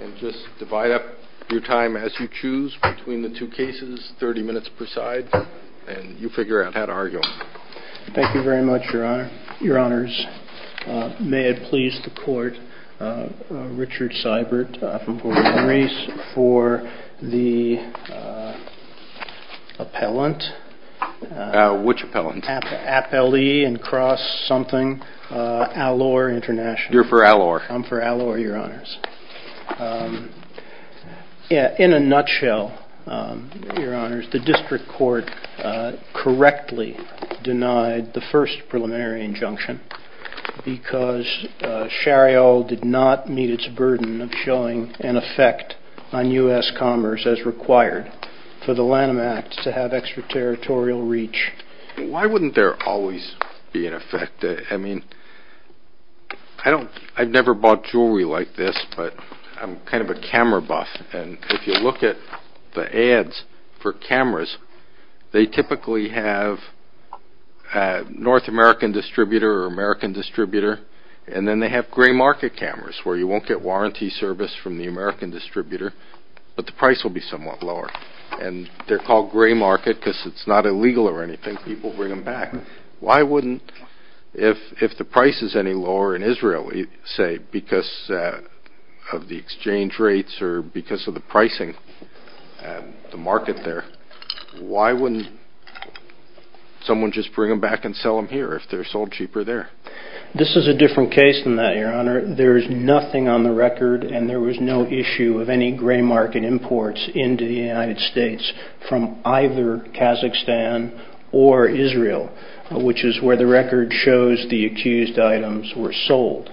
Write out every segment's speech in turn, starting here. And just divide up your time as you choose between the two cases, 30 minutes per side, and you figure out how to argue them. Thank you very much, Your Honor. Your Honors, may it please the Court, Richard Seibert from Port of Henry's for the appellant. Which appellant? Appellee and cross something, A'Lor International. You're for A'Lor? I'm for A'Lor, Your Honors. In a nutshell, Your Honors, the District Court correctly denied the first preliminary injunction because Charriol did not meet its burden of showing an effect on U.S. commerce as required for the Lanham Act to have extraterritorial reach. Why wouldn't there always be an effect? I mean, I've never bought jewelry like this, but I'm kind of a camera buff. And if you look at the ads for cameras, they typically have North American distributor or American distributor, and then they have gray market cameras where you won't get warranty service from the American distributor, but the price will be somewhat lower. And they're called gray market because it's not illegal or anything. People bring them back. Why wouldn't, if the price is any lower in Israel, say, because of the exchange rates or because of the pricing and the market there, why wouldn't someone just bring them back and sell them here if they're sold cheaper there? This is a different case than that, Your Honor. There is nothing on the record, and there was no issue of any gray market imports into the United States from either Kazakhstan or Israel, which is where the record shows the accused items were sold.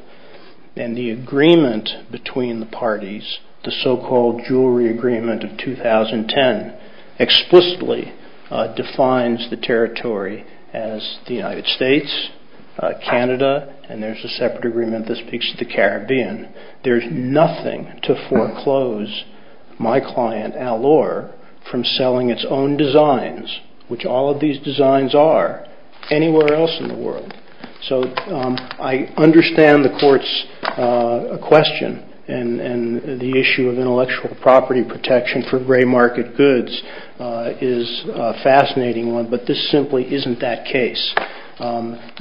And the agreement between the parties, the so-called Jewelry Agreement of 2010, explicitly defines the territory as the United States, Canada, and there's a separate agreement that speaks to the Caribbean. There's nothing to foreclose my client, Al-Or, from selling its own designs, which all of these designs are, anywhere else in the world. So I understand the court's question, and the issue of intellectual property protection for gray market goods is a fascinating one, but this simply isn't that case.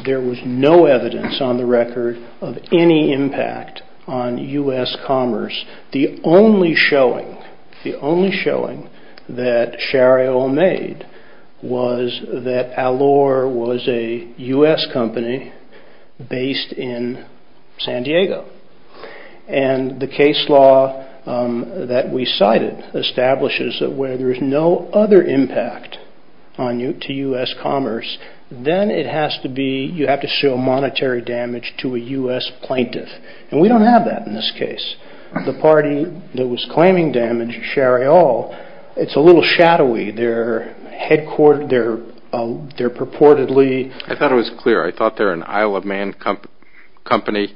There was no evidence on the record of any impact on U.S. commerce. The only showing that Shariol made was that Al-Or was a U.S. company based in San Diego. And the case law that we cited establishes that where there's no other impact to U.S. commerce, then you have to show monetary damage to a U.S. plaintiff. And we don't have that in this case. The party that was claiming damage, Shariol, it's a little shadowy. They're purportedly... I thought it was clear. I thought they're an Isle of Man company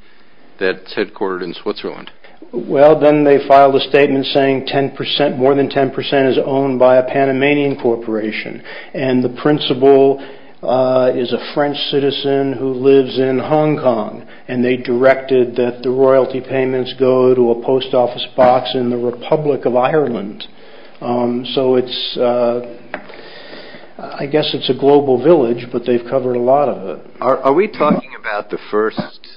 that's headquartered in Switzerland. Well, then they filed a statement saying more than 10% is owned by a Panamanian corporation. And the principal is a French citizen who lives in Hong Kong. And they directed that the royalty payments go to a post office box in the Republic of Ireland. So it's, I guess it's a global village, but they've covered a lot of it. Are we talking about the first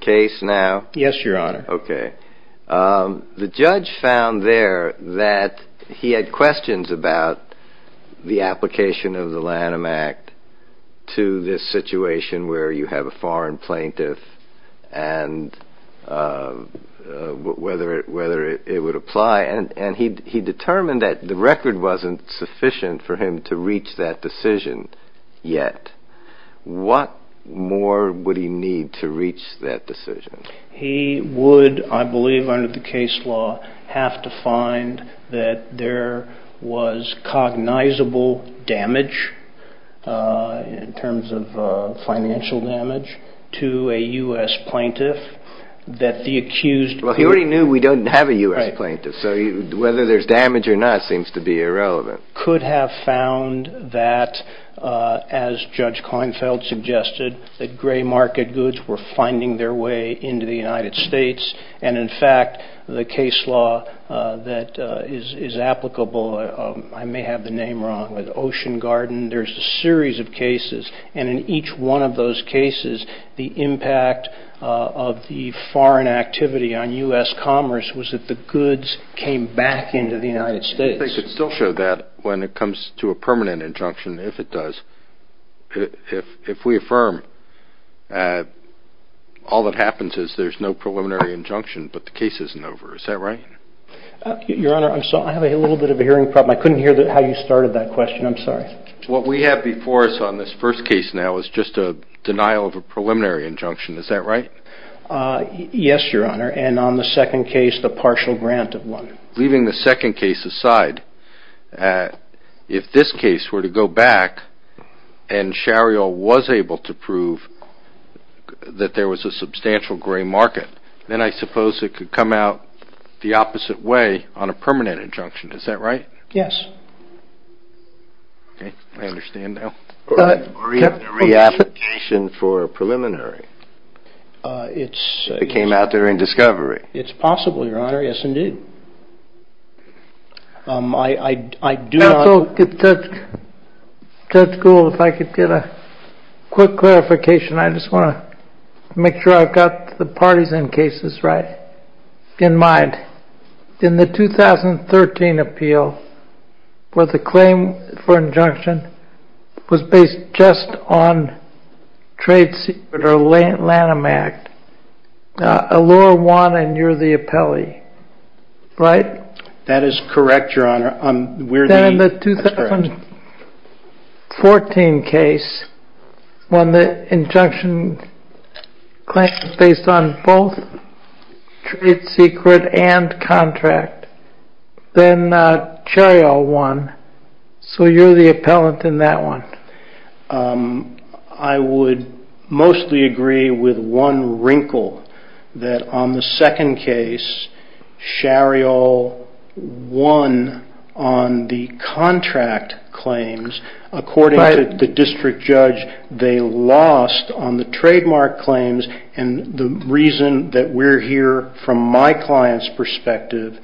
case now? Yes, Your Honor. Okay. The judge found there that he had questions about the application of the Lanham Act to this situation where you have a foreign plaintiff and whether it would apply. And he determined that the record wasn't sufficient for him to reach that decision yet. What more would he need to reach that decision? He would, I believe, under the case law, have to find that there was cognizable damage in terms of financial damage to a U.S. plaintiff that the accused... Well, he already knew we don't have a U.S. plaintiff. So whether there's damage or not seems to be irrelevant. ...could have found that, as Judge Klinefeld suggested, that gray market goods were finding their way into the United States. And, in fact, the case law that is applicable, I may have the name wrong, with Ocean Garden, there's a series of cases, and in each one of those cases, the impact of the foreign activity on U.S. commerce was that the goods came back into the United States. I think it still shows that when it comes to a permanent injunction, if it does, if we affirm all that happens is there's no preliminary injunction, but the case isn't over. Is that right? Your Honor, I'm sorry. I have a little bit of a hearing problem. I couldn't hear how you started that question. I'm sorry. What we have before us on this first case now is just a denial of a preliminary injunction. Is that right? Yes, Your Honor. And on the second case, the partial grant of one. Leaving the second case aside, if this case were to go back, and Shario was able to prove that there was a substantial gray market, then I suppose it could come out the opposite way on a permanent injunction. Is that right? Yes. Okay. I understand now. Or even a reapplication for a preliminary. It came out there in discovery. It's possible, Your Honor. Yes, indeed. Judge Gould, if I could get a quick clarification. I just want to make sure I've got the parties and cases right in mind. In the 2013 appeal, where the claim for injunction was based just on trade secret or Lanham Act, Allure won and you're the appellee, right? That is correct, Your Honor. Then in the 2014 case, when the injunction was based on both trade secret and contract, then Shario won. So you're the appellant in that one. I would mostly agree with one wrinkle that on the second case, Shario won on the contract claims. According to the district judge, they lost on the trademark claims, and the reason that we're here from my client's perspective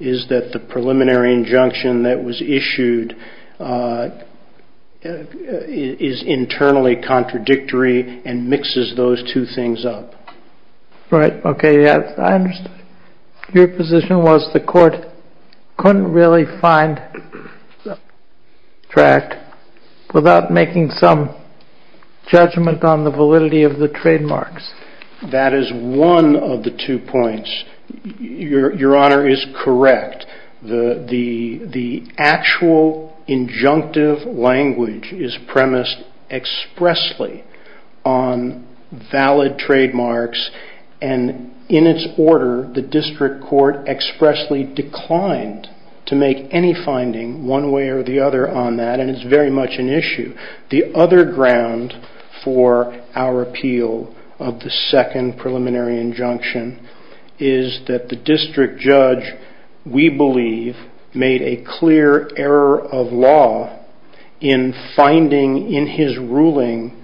is that the preliminary injunction that was issued is internally contradictory and mixes those two things up. Right. Okay. I understand your position was the court couldn't really find the track without making some judgment on the validity of the trademarks. That is one of the two points. Your Honor is correct. The actual injunctive language is premised expressly on valid trademarks, and in its order, the district court expressly declined to make any finding one way or the other on that, and it's very much an issue. The other ground for our appeal of the second preliminary injunction is that the district judge, we believe, made a clear error of law in finding in his ruling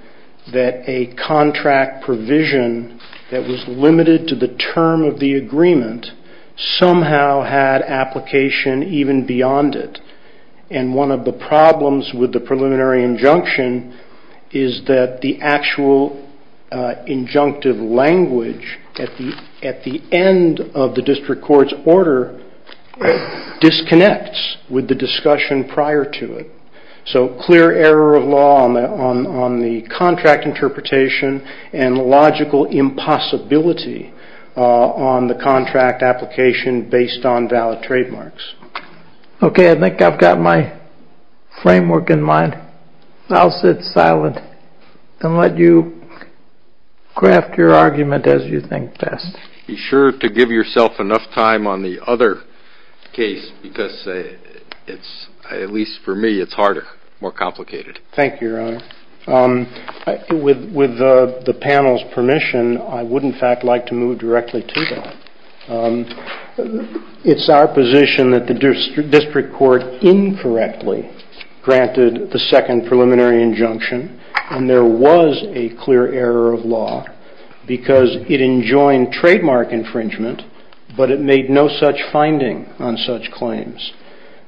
that a contract provision that was limited to the term of the agreement somehow had application even beyond it, and one of the problems with the preliminary injunction is that the actual injunctive language at the end of the district court's order disconnects with the discussion prior to it. So clear error of law on the contract interpretation and logical impossibility on the contract application based on valid trademarks. Okay, I think I've got my framework in mind. I'll sit silent and let you craft your argument as you think best. Be sure to give yourself enough time on the other case, because at least for me, it's harder, more complicated. Thank you, Your Honor. With the panel's permission, I would, in fact, like to move directly to that. It's our position that the district court incorrectly granted the second preliminary injunction, and there was a clear error of law because it enjoined trademark infringement, but it made no such finding on such claims.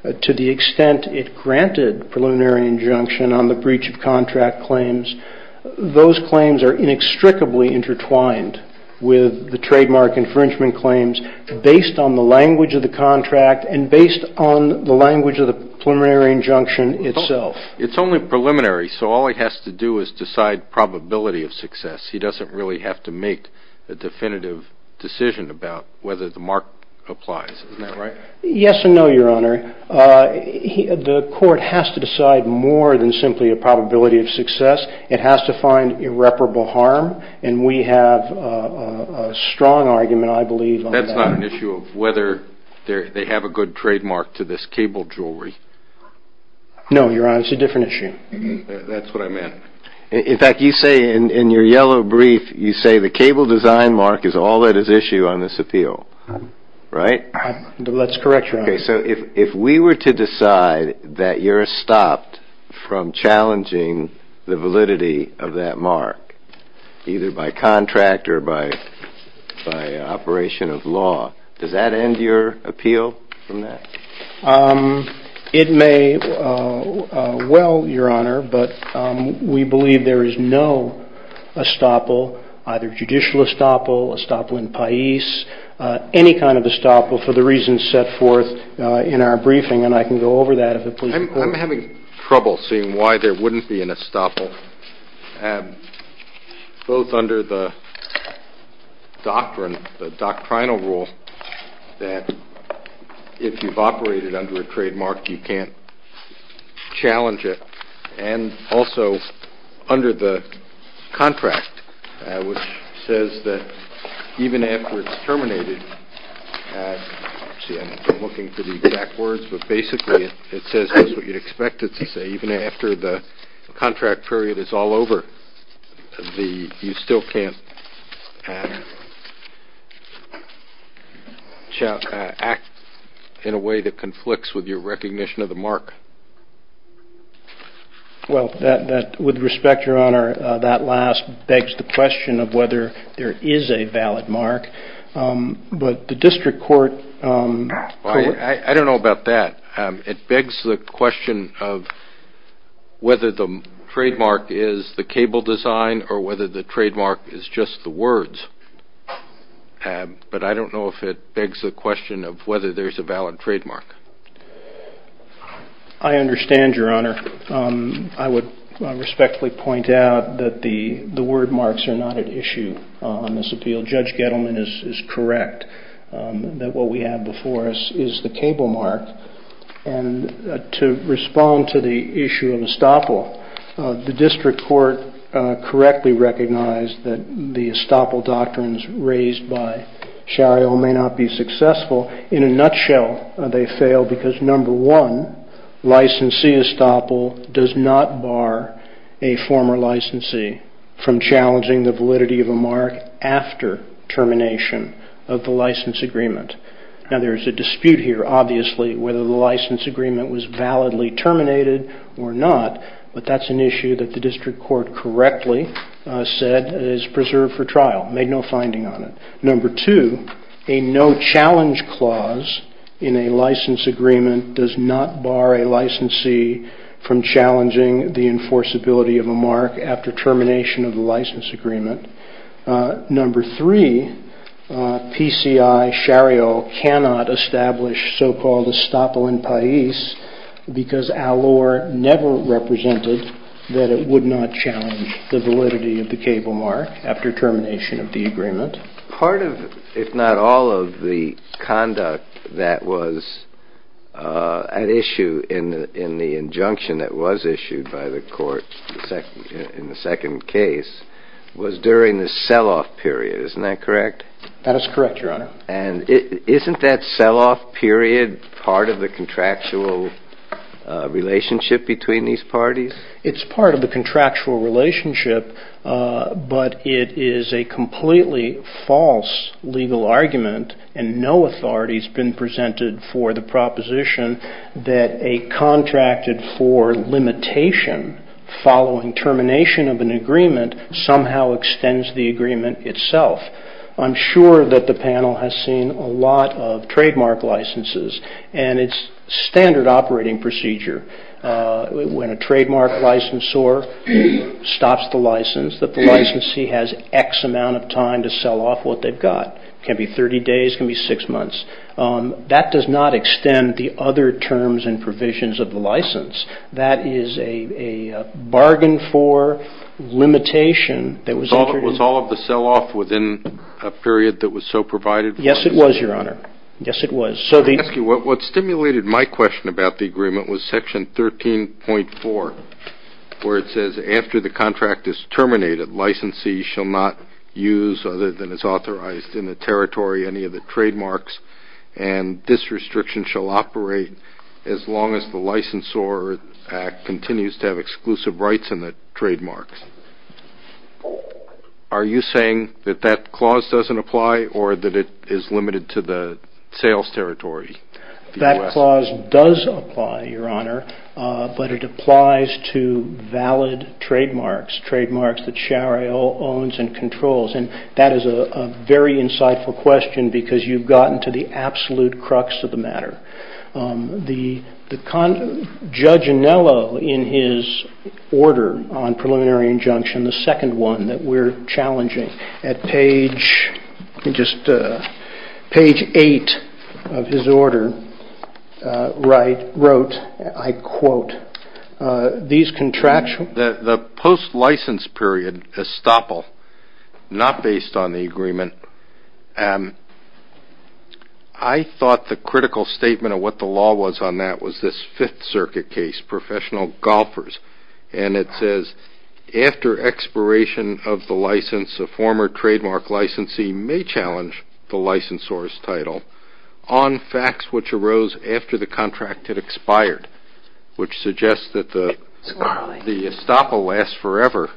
To the extent it granted preliminary injunction on the breach of contract claims, those claims are inextricably intertwined with the trademark infringement claims based on the language of the contract and based on the language of the preliminary injunction itself. It's only preliminary, so all he has to do is decide probability of success. He doesn't really have to make a definitive decision about whether the mark applies. Isn't that right? Yes and no, Your Honor. The court has to decide more than simply a probability of success. It has to find irreparable harm, and we have a strong argument, I believe. That's not an issue of whether they have a good trademark to this cable jewelry. No, Your Honor, it's a different issue. That's what I meant. In fact, you say in your yellow brief, you say the cable design mark is all that is issue on this appeal, right? Let's correct, Your Honor. Okay, so if we were to decide that you're stopped from challenging the validity of that mark, either by contract or by operation of law, does that end your appeal from that? It may well, Your Honor, but we believe there is no estoppel, either judicial estoppel, estoppel in Pais, any kind of estoppel for the reasons set forth in our briefing, and I can go over that if it pleases the court. I'm having trouble seeing why there wouldn't be an estoppel, both under the doctrinal rule that if you've operated under a trademark, you can't challenge it, and also under the contract, which says that even after it's terminated, I'm looking for the exact words, but basically it says just what you'd expect it to say, even after the contract period is all over, you still can't act in a way that conflicts with your recognition of the mark. Well, with respect, Your Honor, that last begs the question of whether there is a valid mark, but the district court- I don't know about that. It begs the question of whether the trademark is the cable design or whether the trademark is just the words, but I don't know if it begs the question of whether there's a valid trademark. I understand, Your Honor. I would respectfully point out that the word marks are not at issue on this appeal. Judge Gettleman is correct that what we have before us is the cable mark, and to respond to the issue of estoppel, the district court correctly recognized that the estoppel doctrines raised by Shario may not be successful. In a nutshell, they fail because, number one, licensee estoppel does not bar a former licensee from challenging the validity of a mark after termination of the license agreement. Now, there's a dispute here, obviously, whether the license agreement was validly terminated or not, but that's an issue that the district court correctly said is preserved for trial, made no finding on it. Number two, a no-challenge clause in a license agreement does not bar a licensee from challenging the enforceability of a mark after termination of the license agreement. Number three, PCI Shario cannot establish so-called estoppel in Pais because Alor never represented that it would not challenge the validity of the cable mark after termination of the agreement. Part of, if not all of, the conduct that was at issue in the injunction that was issued by the court in the second case was during the sell-off period. Isn't that correct? That is correct, Your Honor. And isn't that sell-off period part of the contractual relationship between these parties? It's part of the contractual relationship, but it is a completely false legal argument, and no authority has been presented for the proposition that a contracted for limitation following termination of an agreement somehow extends the agreement itself. I'm sure that the panel has seen a lot of trademark licenses and its standard operating procedure. When a trademark licensor stops the license, the licensee has X amount of time to sell off what they've got. It can be 30 days. It can be six months. That does not extend the other terms and provisions of the license. That is a bargain for limitation that was entered in. Was all of the sell-off within a period that was so provided? Yes, it was, Your Honor. Yes, it was. What stimulated my question about the agreement was Section 13.4, where it says after the contract is terminated, licensee shall not use other than is authorized in the territory any of the trademarks, and this restriction shall operate as long as the licensor act continues to have exclusive rights in the trademarks. Are you saying that that clause doesn't apply, or that it is limited to the sales territory? That clause does apply, Your Honor, but it applies to valid trademarks, trademarks that SHARA owns and controls, and that is a very insightful question because you've gotten to the absolute crux of the matter. Judge Anello, in his order on preliminary injunction, the second one that we're challenging at page 8 of his order, wrote, I quote, The post-license period, estoppel, not based on the agreement, I thought the critical statement of what the law was on that was this Fifth Circuit case, professional golfers, and it says after expiration of the license, a former trademark licensee may challenge the licensor's title on facts which arose after the contract had expired, which suggests that the estoppel lasts forever,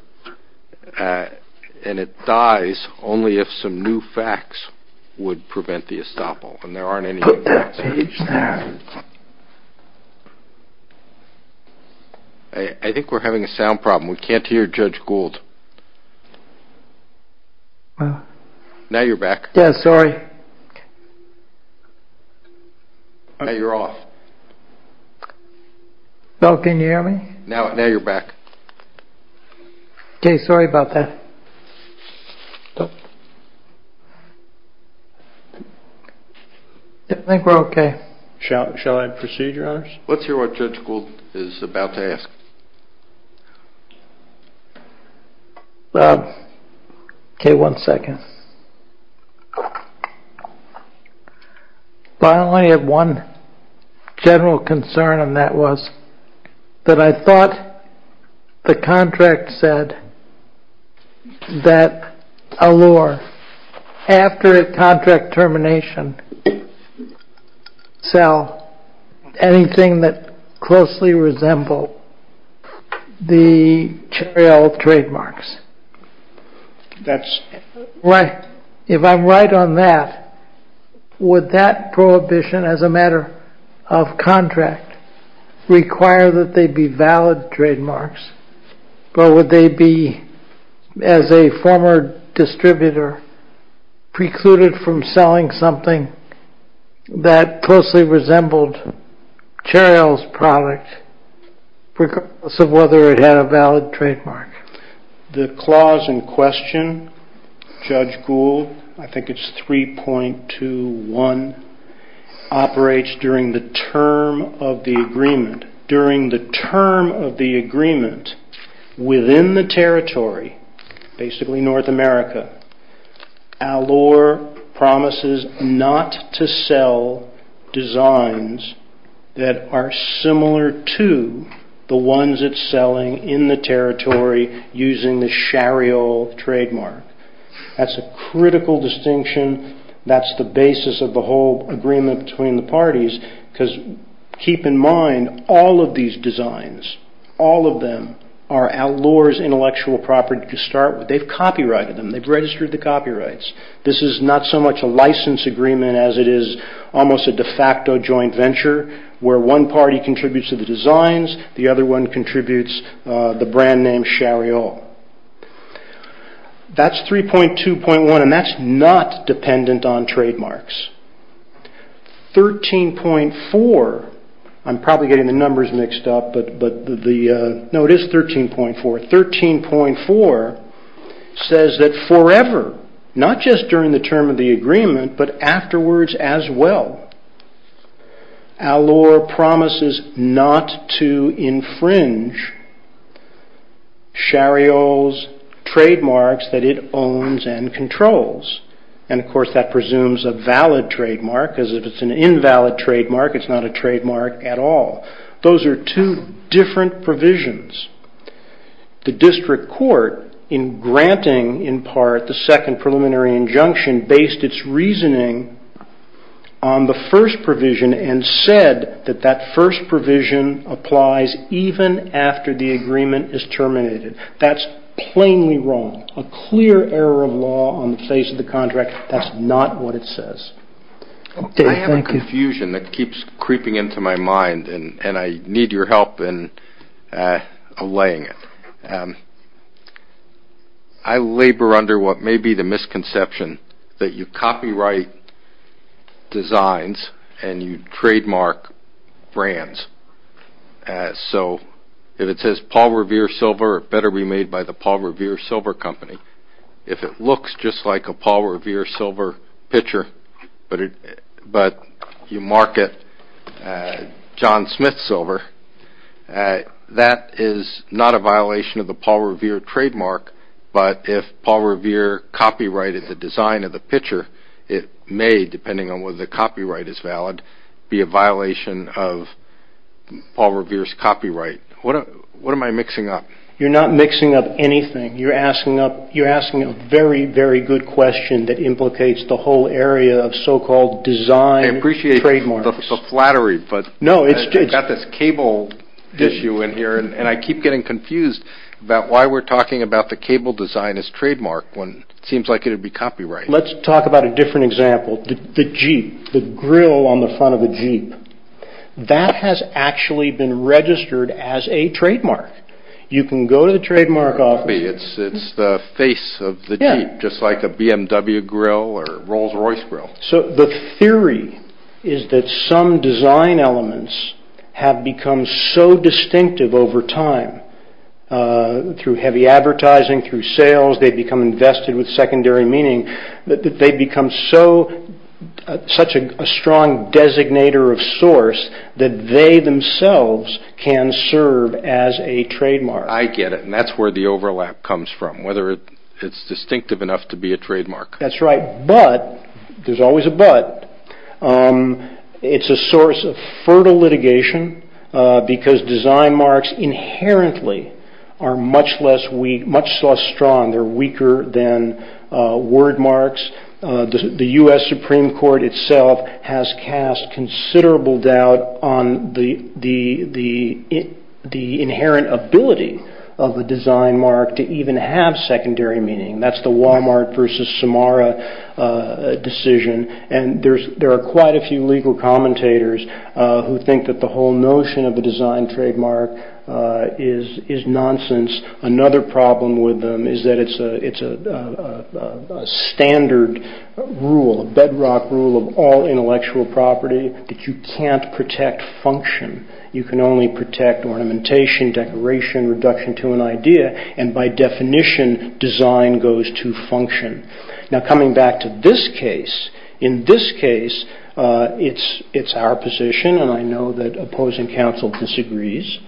and it dies only if some new facts would prevent the estoppel, and there aren't any new facts. I think we're having a sound problem. We can't hear Judge Gould. Now you're back. Yes, sorry. Now you're off. Now can you hear me? Now you're back. Okay, sorry about that. I think we're okay. Shall I proceed, Your Honors? Let's hear what Judge Gould is about to ask. Okay, one second. I only have one general concern, and that was that I thought the contract said that a lure, after a contract termination, sell anything that closely resembled the trail of trademarks. If I'm right on that, would that prohibition as a matter of contract require that they be valid trademarks, or would they be, as a former distributor, precluded from selling something that closely resembled Cheryl's product because of whether it had a valid trademark? The clause in question, Judge Gould, I think it's 3.21, 3.21 operates during the term of the agreement. During the term of the agreement, within the territory, basically North America, a lure promises not to sell designs that are similar to the ones it's selling in the territory using the Cheryl trademark. That's a critical distinction. That's the basis of the whole agreement between the parties, because keep in mind, all of these designs, all of them, are out lures intellectual property to start with. They've copyrighted them. They've registered the copyrights. This is not so much a license agreement as it is almost a de facto joint venture, where one party contributes to the designs, the other one contributes the brand name Cheryl. That's 3.21, and that's not dependent on trademarks. 13.4, I'm probably getting the numbers mixed up, but no, it is 13.4. 13.4 says that forever, not just during the term of the agreement, but afterwards as well, a lure promises not to infringe Cheryl's trademarks that it owns and controls. Of course, that presumes a valid trademark, because if it's an invalid trademark, it's not a trademark at all. Those are two different provisions. The district court, in granting in part the second preliminary injunction, and based its reasoning on the first provision, and said that that first provision applies even after the agreement is terminated. That's plainly wrong, a clear error of law on the face of the contract. That's not what it says. I have confusion that keeps creeping into my mind, and I need your help in allaying it. I labor under what may be the misconception that you copyright designs and you trademark brands. If it says Paul Revere Silver, it better be made by the Paul Revere Silver Company. If it looks just like a Paul Revere Silver pitcher, but you market John Smith Silver, that is not a violation of the Paul Revere trademark, but if Paul Revere copyrighted the design of the pitcher, it may, depending on whether the copyright is valid, be a violation of Paul Revere's copyright. What am I mixing up? You're not mixing up anything. You're asking a very, very good question that implicates the whole area of so-called design trademarks. I got this cable issue in here, and I keep getting confused about why we're talking about the cable design as trademark when it seems like it would be copyrighted. Let's talk about a different example, the Jeep, the grill on the front of the Jeep. That has actually been registered as a trademark. You can go to the trademark office. It's the face of the Jeep, just like a BMW grill or a Rolls-Royce grill. The theory is that some design elements have become so distinctive over time, through heavy advertising, through sales, they've become invested with secondary meaning, that they've become such a strong designator of source that they themselves can serve as a trademark. I get it, and that's where the overlap comes from, whether it's distinctive enough to be a trademark. That's right, but there's always a but. It's a source of fertile litigation because design marks inherently are much less strong. They're weaker than word marks. The U.S. Supreme Court itself has cast considerable doubt on the inherent ability of a design mark to even have secondary meaning. That's the Walmart versus Samara decision. There are quite a few legal commentators who think that the whole notion of a design trademark is nonsense. Another problem with them is that it's a standard rule, a bedrock rule of all intellectual property that you can't protect function. You can only protect ornamentation, decoration, reduction to an idea, and by definition, design goes to function. Now, coming back to this case, in this case, it's our position, and I know that opposing counsel disagrees,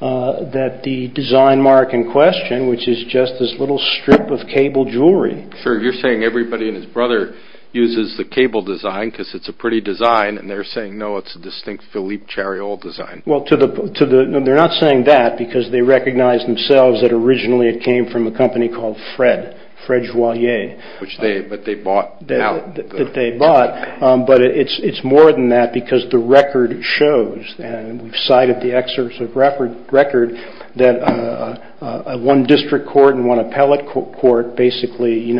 that the design mark in question, which is just this little strip of cable jewelry. Sure, you're saying everybody and his brother uses the cable design because it's a pretty design, and they're saying, no, it's a distinct Philippe Chariot design. Well, they're not saying that because they recognize themselves that originally it came from a company called Fred, Fred Joye. Which they bought. That they bought, but it's more than that because the record shows, and we've cited the excerpts of record, that one district court and one appellate court basically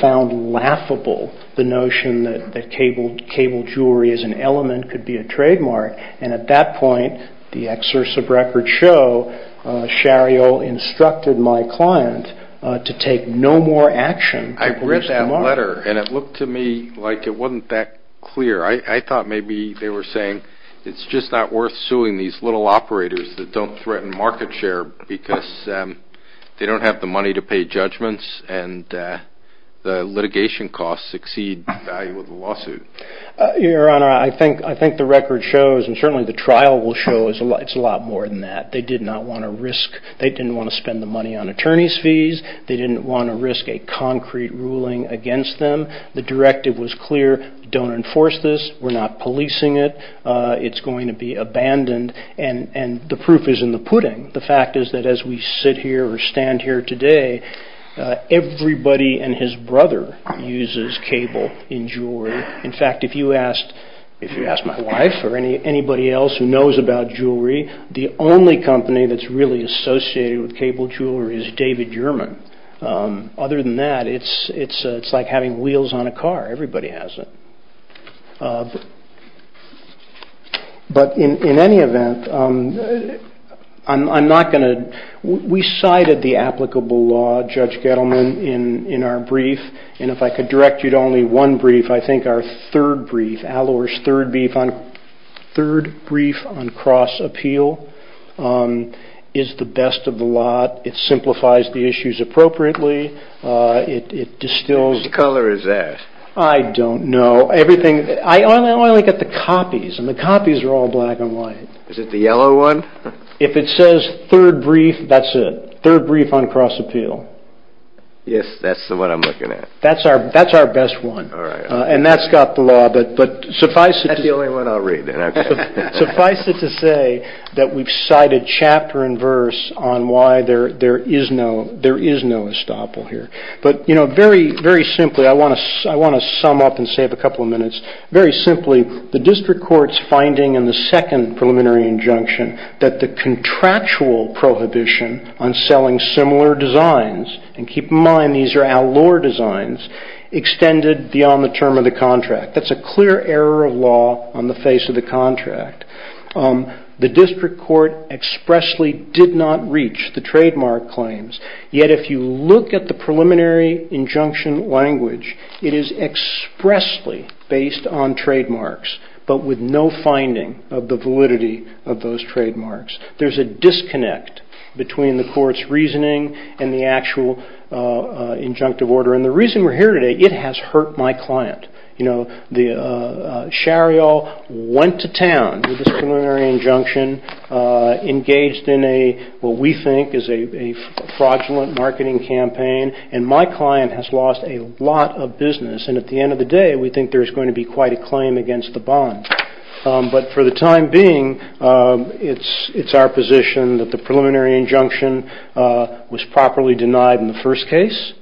found laughable the notion that cable jewelry as an element could be a trademark, and at that point, the excerpts of record show Chariot instructed my client to take no more action. I read that letter, and it looked to me like it wasn't that clear. I thought maybe they were saying it's just not worth suing these little operators that don't threaten market share because they don't have the money to pay judgments and litigation costs exceed the value of the lawsuit. Your Honor, I think the record shows, and certainly the trial will show, it's a lot more than that. They did not want to risk, they didn't want to spend the money on attorney's fees. They didn't want to risk a concrete ruling against them. The directive was clear. Don't enforce this. We're not policing it. It's going to be abandoned, and the proof is in the pudding. The fact is that as we sit here or stand here today, everybody and his brother uses cable in jewelry. In fact, if you asked my wife or anybody else who knows about jewelry, the only company that's really associated with cable jewelry is David German. Other than that, it's like having wheels on a car. Everybody has it. In any event, we cited the applicable law, Judge Gettleman, in our brief, and if I could direct you to only one brief, I think our third brief, Allure's third brief on cross-appeal, is the best of the lot. It simplifies the issues appropriately. It distills- Which color is that? I don't know. I only look at the copies, and the copies are all black and white. Is it the yellow one? If it says third brief, that's it. Third brief on cross-appeal. Yes, that's the one I'm looking at. That's our best one, and that's got the law. That's the only one I'll read. Suffice it to say that we've cited chapter and verse on why there is no estoppel here. Very simply, I want to sum up and save a couple of minutes. Very simply, the district court's finding in the second preliminary injunction that the contractual prohibition on selling similar designs, and keep in mind these are Allure designs, extended beyond the term of the contract. That's a clear error of law on the face of the contract. The district court expressly did not reach the trademark claims, yet if you look at the preliminary injunction language, it is expressly based on trademarks, but with no finding of the validity of those trademarks. There's a disconnect between the court's reasoning and the actual injunctive order, and the reason we're here today, it has hurt my client. Shariall went to town with this preliminary injunction, engaged in what we think is a fraudulent marketing campaign, and my client has lost a lot of business, and at the end of the day we think there's going to be quite a claim against the bond. But for the time being, it's our position that the preliminary injunction was properly denied in the first case,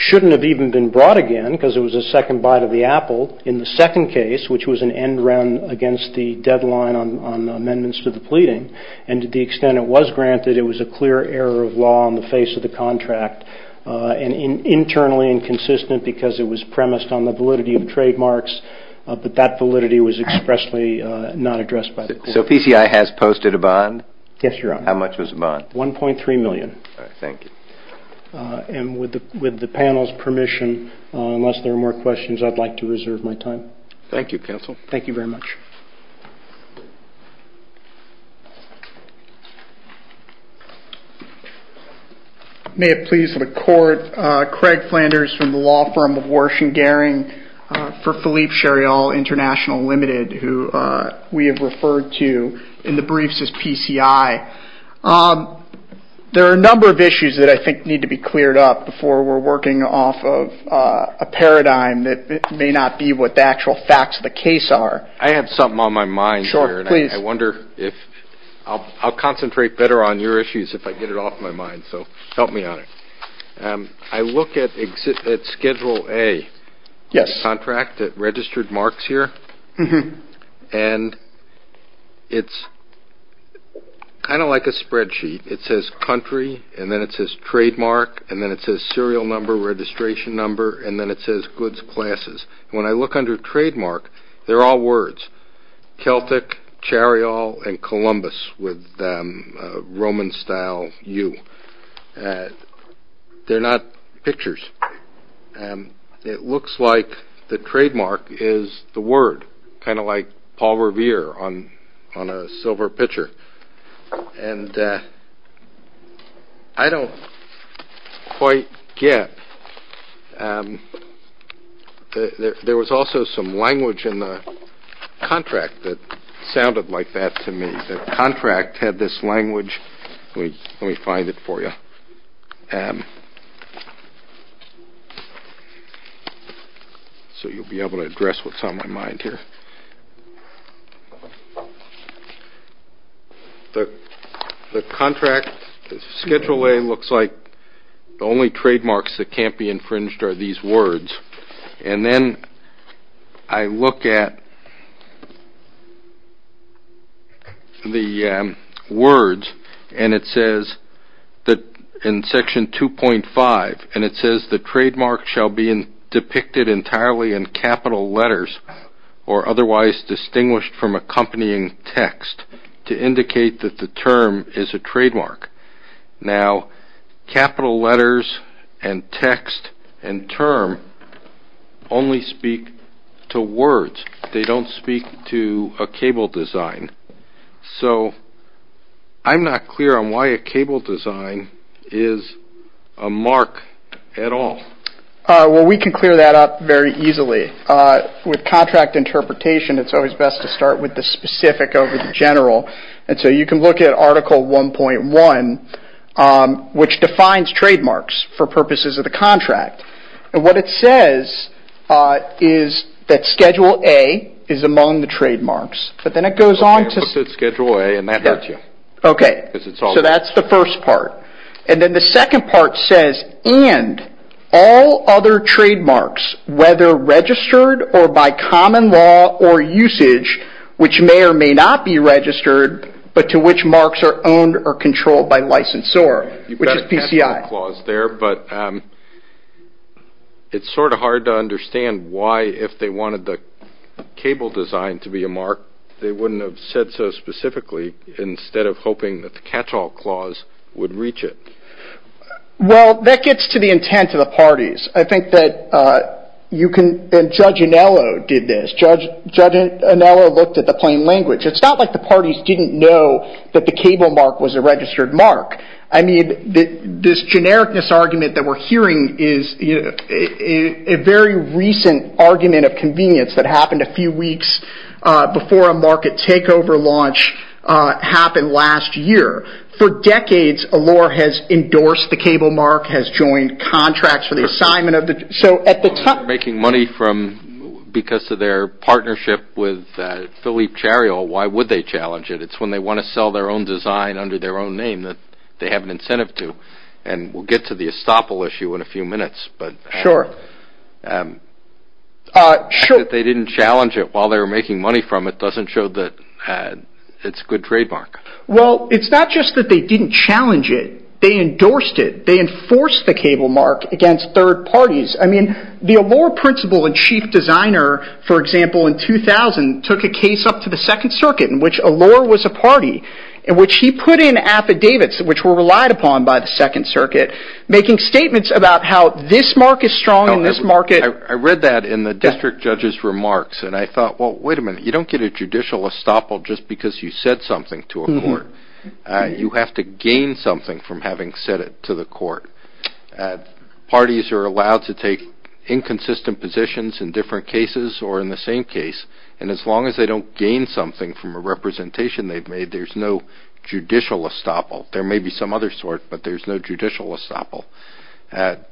shouldn't have even been brought again because it was a second bite of the apple in the second case, which was an end run against the deadline on amendments to the pleading, and to the extent it was granted, it was a clear error of law on the face of the contract, and internally inconsistent because it was premised on the validity of the trademarks, but that validity was expressly not addressed by the court. So PCI has posted a bond? Yes, Your Honor. How much was the bond? $1.3 million. Thank you. And with the panel's permission, unless there are more questions, I'd like to reserve my time. Thank you, counsel. Thank you very much. May it please the court, Craig Flanders from the law firm of Warsh and Goering, for Philippe Shariall International Limited, who we have referred to in the briefs as PCI. There are a number of issues that I think need to be cleared up before we're working off of a paradigm that may not be what the actual facts of the case are. I have something on my mind here, and I wonder if – I'll concentrate better on your issues if I get it off my mind, so help me on it. I look at Schedule A, the contract that registered marks here, and it's kind of like a spreadsheet. It says country, and then it says trademark, and then it says serial number, registration number, and then it says goods classes. When I look under trademark, they're all words, Celtic, Shariall, and Columbus with a Roman-style U. They're not pictures. It looks like the trademark is the word, kind of like Paul Revere on a silver pitcher. I don't quite get – there was also some language in the contract that sounded like that to me. The contract had this language – let me find it for you. So you'll be able to address what's on my mind here. The contract, Schedule A, looks like the only trademarks that can't be infringed are these words, and then I look at the words, and it says in Section 2.5, and it says the trademark shall be depicted entirely in capital letters or otherwise distinguished from accompanying text to indicate that the term is a trademark. Now, capital letters and text and term only speak to words. They don't speak to a cable design. So I'm not clear on why a cable design is a mark at all. Well, we can clear that up very easily. With contract interpretation, it's always best to start with the specific over the general. And so you can look at Article 1.1, which defines trademarks for purposes of the contract. And what it says is that Schedule A is among the trademarks. So that's the first part. And then the second part says, and all other trademarks, whether registered or by common law or usage, which may or may not be registered, but to which marks are owned or controlled by licensor, which is PCI. You've got a catch-all clause there, but it's sort of hard to understand why, if they wanted the cable design to be a mark, they wouldn't have said so specifically instead of hoping that the catch-all clause would reach it. Well, that gets to the intent of the parties. I think that you can – and Judge Anello did this. Judge Anello looked at the plain language. It's not like the parties didn't know that the cable mark was a registered mark. I mean, this generic misargument that we're hearing is a very recent argument of convenience that happened a few weeks before a market takeover launch happened last year. For decades, Allure has endorsed the cable mark, has joined contracts for the assignment of the – So at the time – Making money from – because of their partnership with Philippe Chariot, why would they challenge it? It's when they want to sell their own design under their own name that they have an incentive to, and we'll get to the estoppel issue in a few minutes. Sure. The fact that they didn't challenge it while they were making money from it doesn't show that it's a good trademark. Well, it's not just that they didn't challenge it. They endorsed it. They enforced the cable mark against third parties. I mean, the Allure principal and chief designer, for example, in 2000 took a case up to the Second Circuit in which Allure was a party in which he put in affidavits which were relied upon by the Second Circuit making statements about how this mark is strong and this mark is – I read that in the district judge's remarks, and I thought, well, wait a minute. You don't get a judicial estoppel just because you said something to a court. You have to gain something from having said it to the court. Parties are allowed to take inconsistent positions in different cases or in the same case, and as long as they don't gain something from a representation they've made, there's no judicial estoppel. There may be some other sort, but there's no judicial estoppel.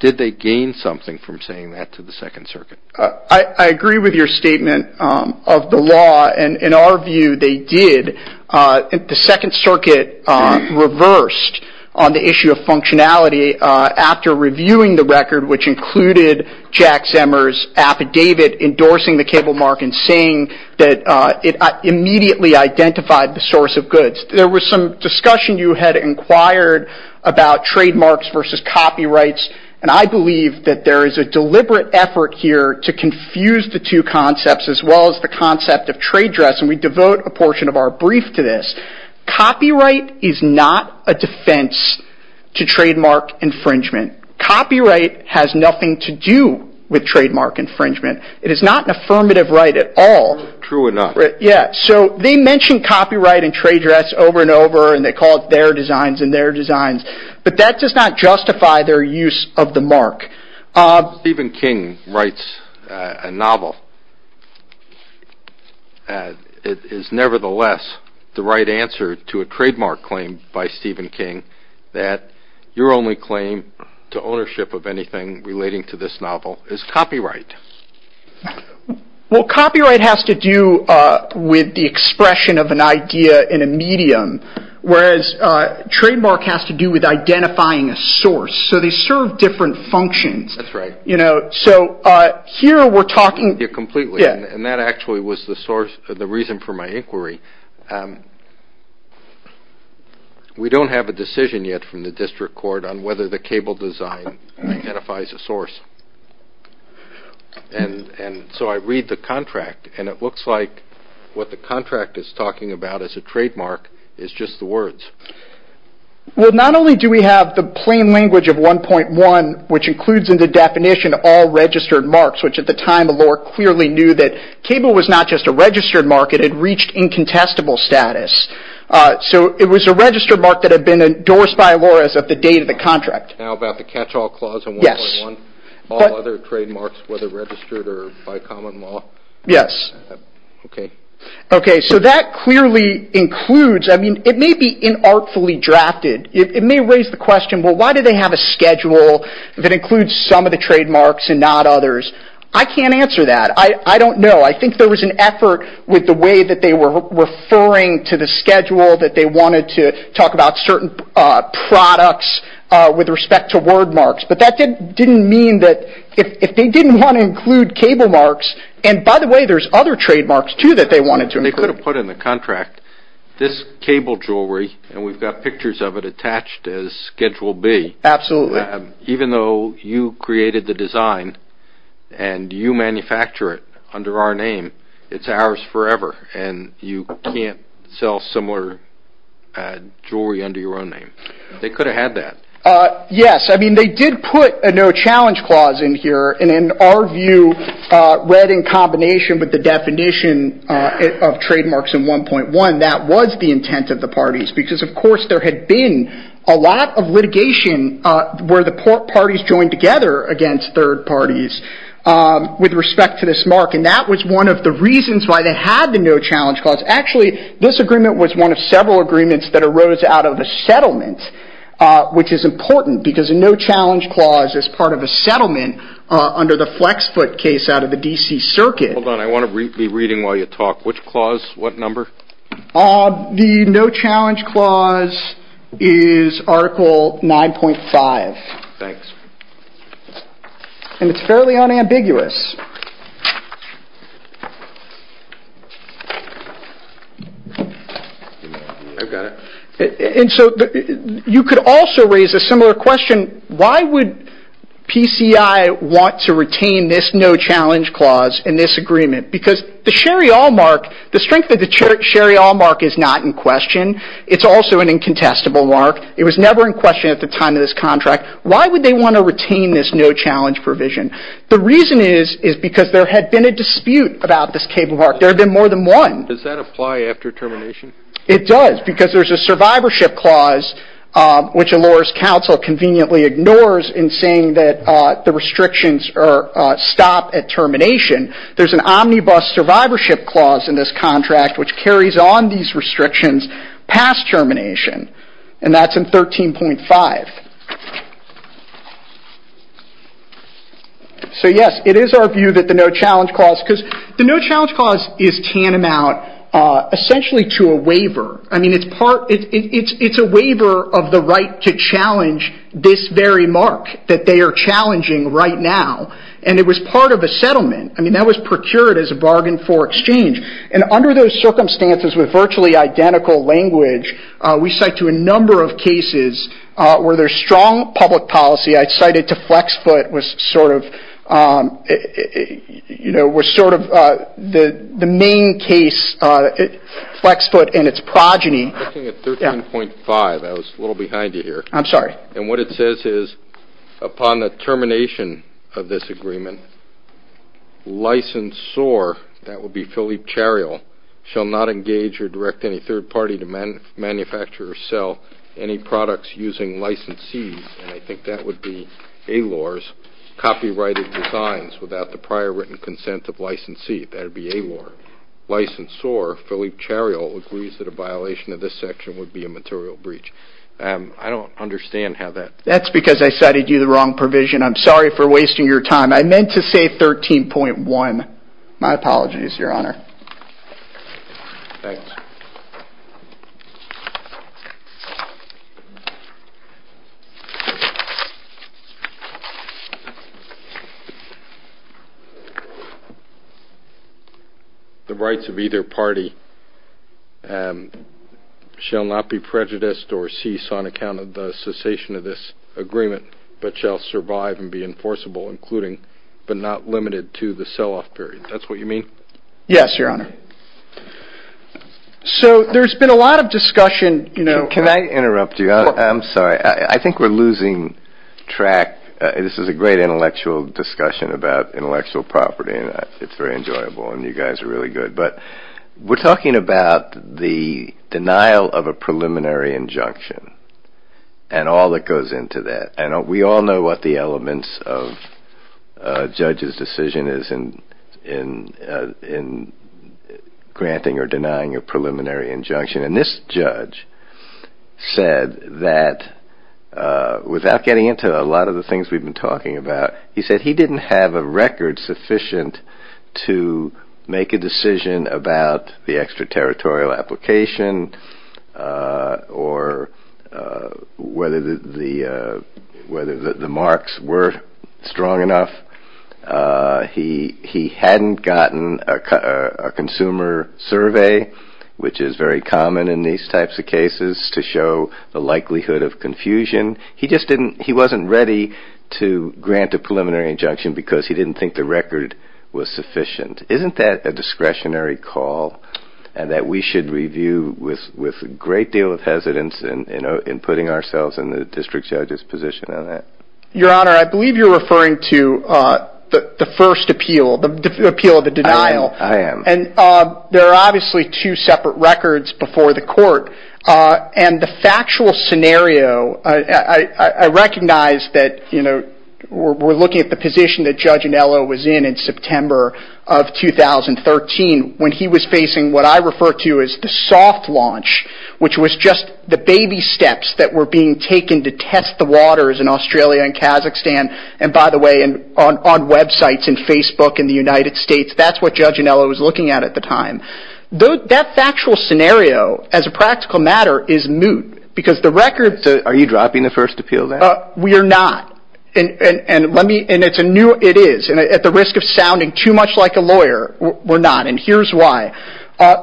Did they gain something from saying that to the Second Circuit? I agree with your statement of the law, and in our view, they did. The Second Circuit reversed on the issue of functionality after reviewing the record, which included Jack Zemmer's affidavit endorsing the cable mark and saying that it immediately identified the source of goods. There was some discussion you had inquired about trademarks versus copyrights, and I believe that there is a deliberate effort here to confuse the two concepts as well as the concept of trade dress, and we devote a portion of our brief to this. Copyright is not a defense to trademark infringement. Copyright has nothing to do with trademark infringement. It is not an affirmative right at all. They mention copyright and trade dress over and over, and they call it their designs and their designs, but that does not justify their use of the mark. Stephen King writes a novel. It is nevertheless the right answer to a trademark claim by Stephen King that your only claim to ownership of anything relating to this novel is copyright. Well, copyright has to do with the expression of an idea in a medium, so they serve different functions. That actually was the reason for my inquiry. We don't have a decision yet from the district court on whether the cable design identifies a source, and so I read the contract, and it looks like what the contract is talking about as a trademark is just the words. Well, not only do we have the plain language of 1.1, which includes in the definition all registered marks, which at the time Allure clearly knew that cable was not just a registered mark. It had reached incontestable status. So it was a registered mark that had been endorsed by Allure at the date of the contract. Now about the catch-all clause on 1.1, all other trademarks, whether registered or by common law. Yes. Okay. Okay, so that clearly includes. I mean, it may be inartfully drafted. It may raise the question, well, why do they have a schedule that includes some of the trademarks and not others? I can't answer that. I don't know. I think there was an effort with the way that they were referring to the schedule, that they wanted to talk about certain products with respect to word marks, but that didn't mean that if they didn't want to include cable marks, and by the way, there's other trademarks, too, that they wanted to include. They could have put in the contract this cable jewelry, and we've got pictures of it attached as Schedule B. Absolutely. Even though you created the design and you manufacture it under our name, it's ours forever, and you can't sell similar jewelry under your own name. They could have had that. Yes. I mean, they did put a new challenge clause in here, and in our view, read in combination with the definition of trademarks in 1.1, that was the intent of the parties, because, of course, there had been a lot of litigation where the parties joined together against third parties with respect to this mark, and that was one of the reasons why they had the new challenge clause. Actually, this agreement was one of several agreements that arose out of a settlement, which is important because a new challenge clause is part of a settlement under the Flexbook case out of the D.C. Circuit. Hold on. I want to be reading while you talk. Which clause? What number? The new challenge clause is Article 9.5. Thanks. And it's fairly unambiguous. I've got it. And so you could also raise a similar question, why would PCI want to retain this new challenge clause in this agreement? Because the Sherry Allmark, the strength of the Sherry Allmark is not in question. It's also an incontestable mark. It was never in question at the time of this contract. Why would they want to retain this new challenge provision? The reason is because there had been a dispute about this cable mark. There had been more than one. Does that apply after termination? It does, because there's a survivorship clause, which Allure's counsel conveniently ignores in saying that the restrictions stop at termination. There's an omnibus survivorship clause in this contract which carries on these restrictions past termination, and that's in 13.5. So, yes, it is our view that the new challenge clause, because the new challenge clause is tantamount essentially to a waiver. I mean, it's a waiver of the right to challenge this very mark that they are challenging right now, and it was part of a settlement. I mean, that was procured as a bargain for exchange. And under those circumstances with virtually identical language, we cite to a number of cases where there's strong public policy. I cited to Flexfoot was sort of the main case, Flexfoot and its progeny. I'm looking at 13.5. I was a little behind you here. I'm sorry. And what it says is, upon the termination of this agreement, licensor, that would be Philippe Charial, shall not engage or direct any third party to manufacture or sell any products using licensees, and I think that would be Allure's copyrighted designs, without the prior written consent of licensee. That would be Allure. Licensor, Philippe Charial, agrees that a violation of this section would be a material breach. I don't understand how that. That's because I cited you the wrong provision. I'm sorry for wasting your time. I meant to say 13.1. My apologies, Your Honor. Thanks. The rights of either party shall not be prejudiced or ceased on account of the cessation of this agreement, but shall survive and be enforceable, including but not limited to the sell-off period. Is that what you mean? Yes, Your Honor. So there's been a lot of discussion. Can I interrupt you? I'm sorry. I think we're losing track. This is a great intellectual discussion about intellectual property, and it's very enjoyable, and you guys are really good, but we're talking about the denial of a preliminary injunction and all that goes into that. We all know what the elements of a judge's decision is in granting or denying a preliminary injunction, and this judge said that, without getting into a lot of the things we've been talking about, he said he didn't have a record sufficient to make a decision about the extraterritorial application or whether the marks were strong enough. He hadn't gotten a consumer survey, which is very common in these types of cases, to show the likelihood of confusion. He just wasn't ready to grant a preliminary injunction because he didn't think the record was sufficient. Isn't that a discretionary call and that we should review with a great deal of hesitance in putting ourselves in the district judge's position on that? Your Honor, I believe you're referring to the first appeal, the appeal of the denial. I am. And there are obviously two separate records before the court, and the factual scenario, I recognize that we're looking at the position that Judge Anello was in in September of 2013 when he was facing what I refer to as the soft launch, which was just the baby steps that were being taken to test the waters in Australia and Kazakhstan, and by the way, on websites in Facebook in the United States, that's what Judge Anello was looking at at the time. That factual scenario, as a practical matter, is moot. Are you dropping the first appeal then? We are not, and it is. At the risk of sounding too much like a lawyer, we're not, and here's why.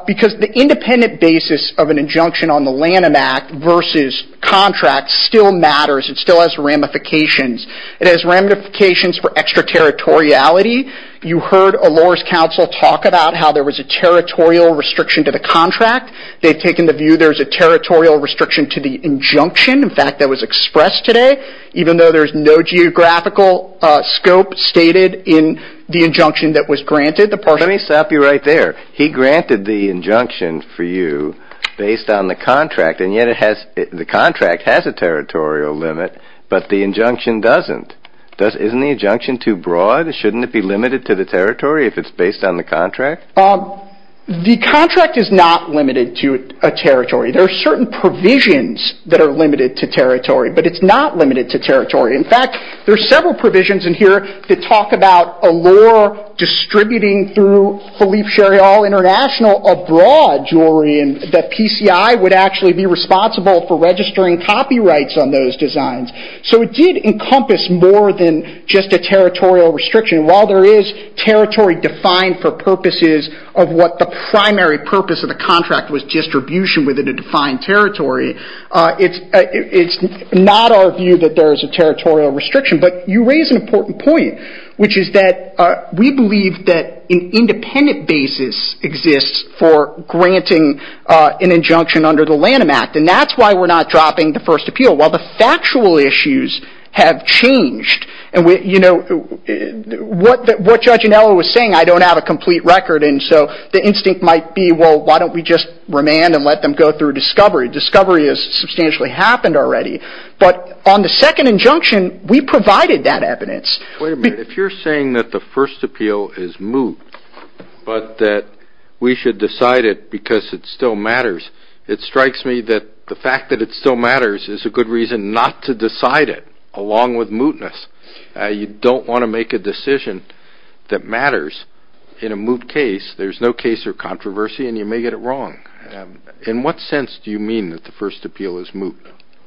Because the independent basis of an injunction on the Lanham Act versus contract still matters. It still has ramifications. It has ramifications for extraterritoriality. You heard a lawyer's counsel talk about how there was a territorial restriction to the contract. They've taken the view there's a territorial restriction to the injunction, in fact, that was expressed today, even though there's no geographical scope stated in the injunction that was granted. Let me stop you right there. He granted the injunction for you based on the contract, and yet the contract has a territorial limit, but the injunction doesn't. Isn't the injunction too broad? Shouldn't it be limited to the territory if it's based on the contract? The contract is not limited to a territory. There are certain provisions that are limited to territory, but it's not limited to territory. In fact, there are several provisions in here that talk about a law distributing through Khalif Sherial International a broad jury that PCI would actually be responsible for registering copyrights on those designs. So it did encompass more than just a territorial restriction. While there is territory defined for purposes of what the primary purpose of the contract was, distribution within a defined territory, it's not our view that there is a territorial restriction. But you raise an important point, which is that we believe that an independent basis exists for granting an injunction under the Lanham Act, and that's why we're not dropping the first appeal. While the factual issues have changed, and what Judge Anello was saying, I don't have a complete record, and so the instinct might be, well, why don't we just remand and let them go through discovery? Discovery has substantially happened already. But on the second injunction, we provided that evidence. Wait a minute. If you're saying that the first appeal is moot, but that we should decide it because it still matters, it strikes me that the fact that it still matters is a good reason not to decide it, along with mootness. You don't want to make a decision that matters in a moot case. There's no case or controversy, and you may get it wrong. In what sense do you mean that the first appeal is moot?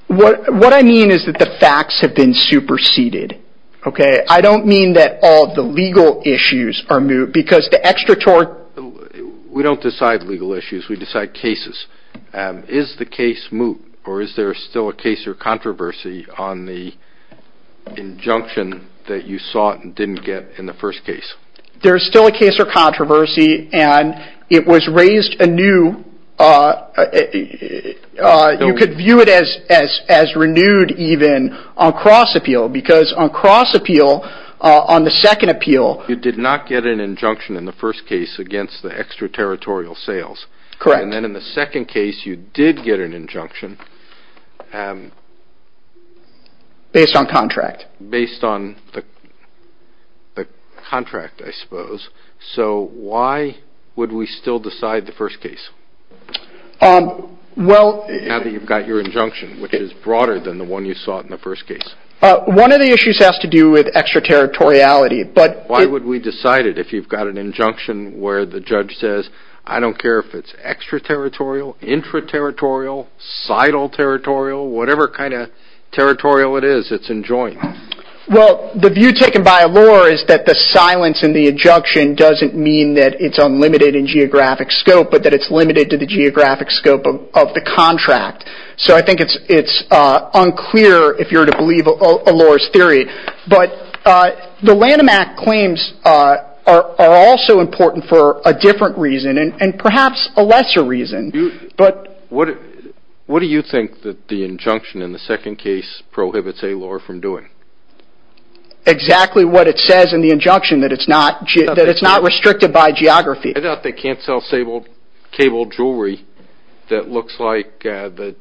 What I mean is that the facts have been superseded. Okay? I don't mean that all of the legal issues are moot, because the extraterritorial – We don't decide legal issues. We decide cases. Is the case moot, or is there still a case or controversy on the injunction that you sought and didn't get in the first case? There's still a case or controversy, and it was raised anew. You could view it as renewed even on cross-appeal, because on cross-appeal, on the second appeal, you did not get an injunction in the first case against the extraterritorial sales. Correct. And then in the second case, you did get an injunction. Based on contract. Based on the contract, I suppose. So why would we still decide the first case, now that you've got your injunction, which is broader than the one you sought in the first case? One of the issues has to do with extraterritoriality. Why would we decide it, if you've got an injunction where the judge says, I don't care if it's extraterritorial, intraterritorial, societal territorial, whatever kind of territorial it is, it's enjoined? Well, the view taken by a law is that the silence in the injunction doesn't mean that it's unlimited in geographic scope, but that it's limited to the geographic scope of the contract. So I think it's unclear if you're to believe Allure's theory. But the Lanham Act claims are also important for a different reason, and perhaps a lesser reason. What do you think that the injunction in the second case prohibits Allure from doing? Exactly what it says in the injunction, that it's not restricted by geography. It turns out they can't sell cable jewelry that looks like the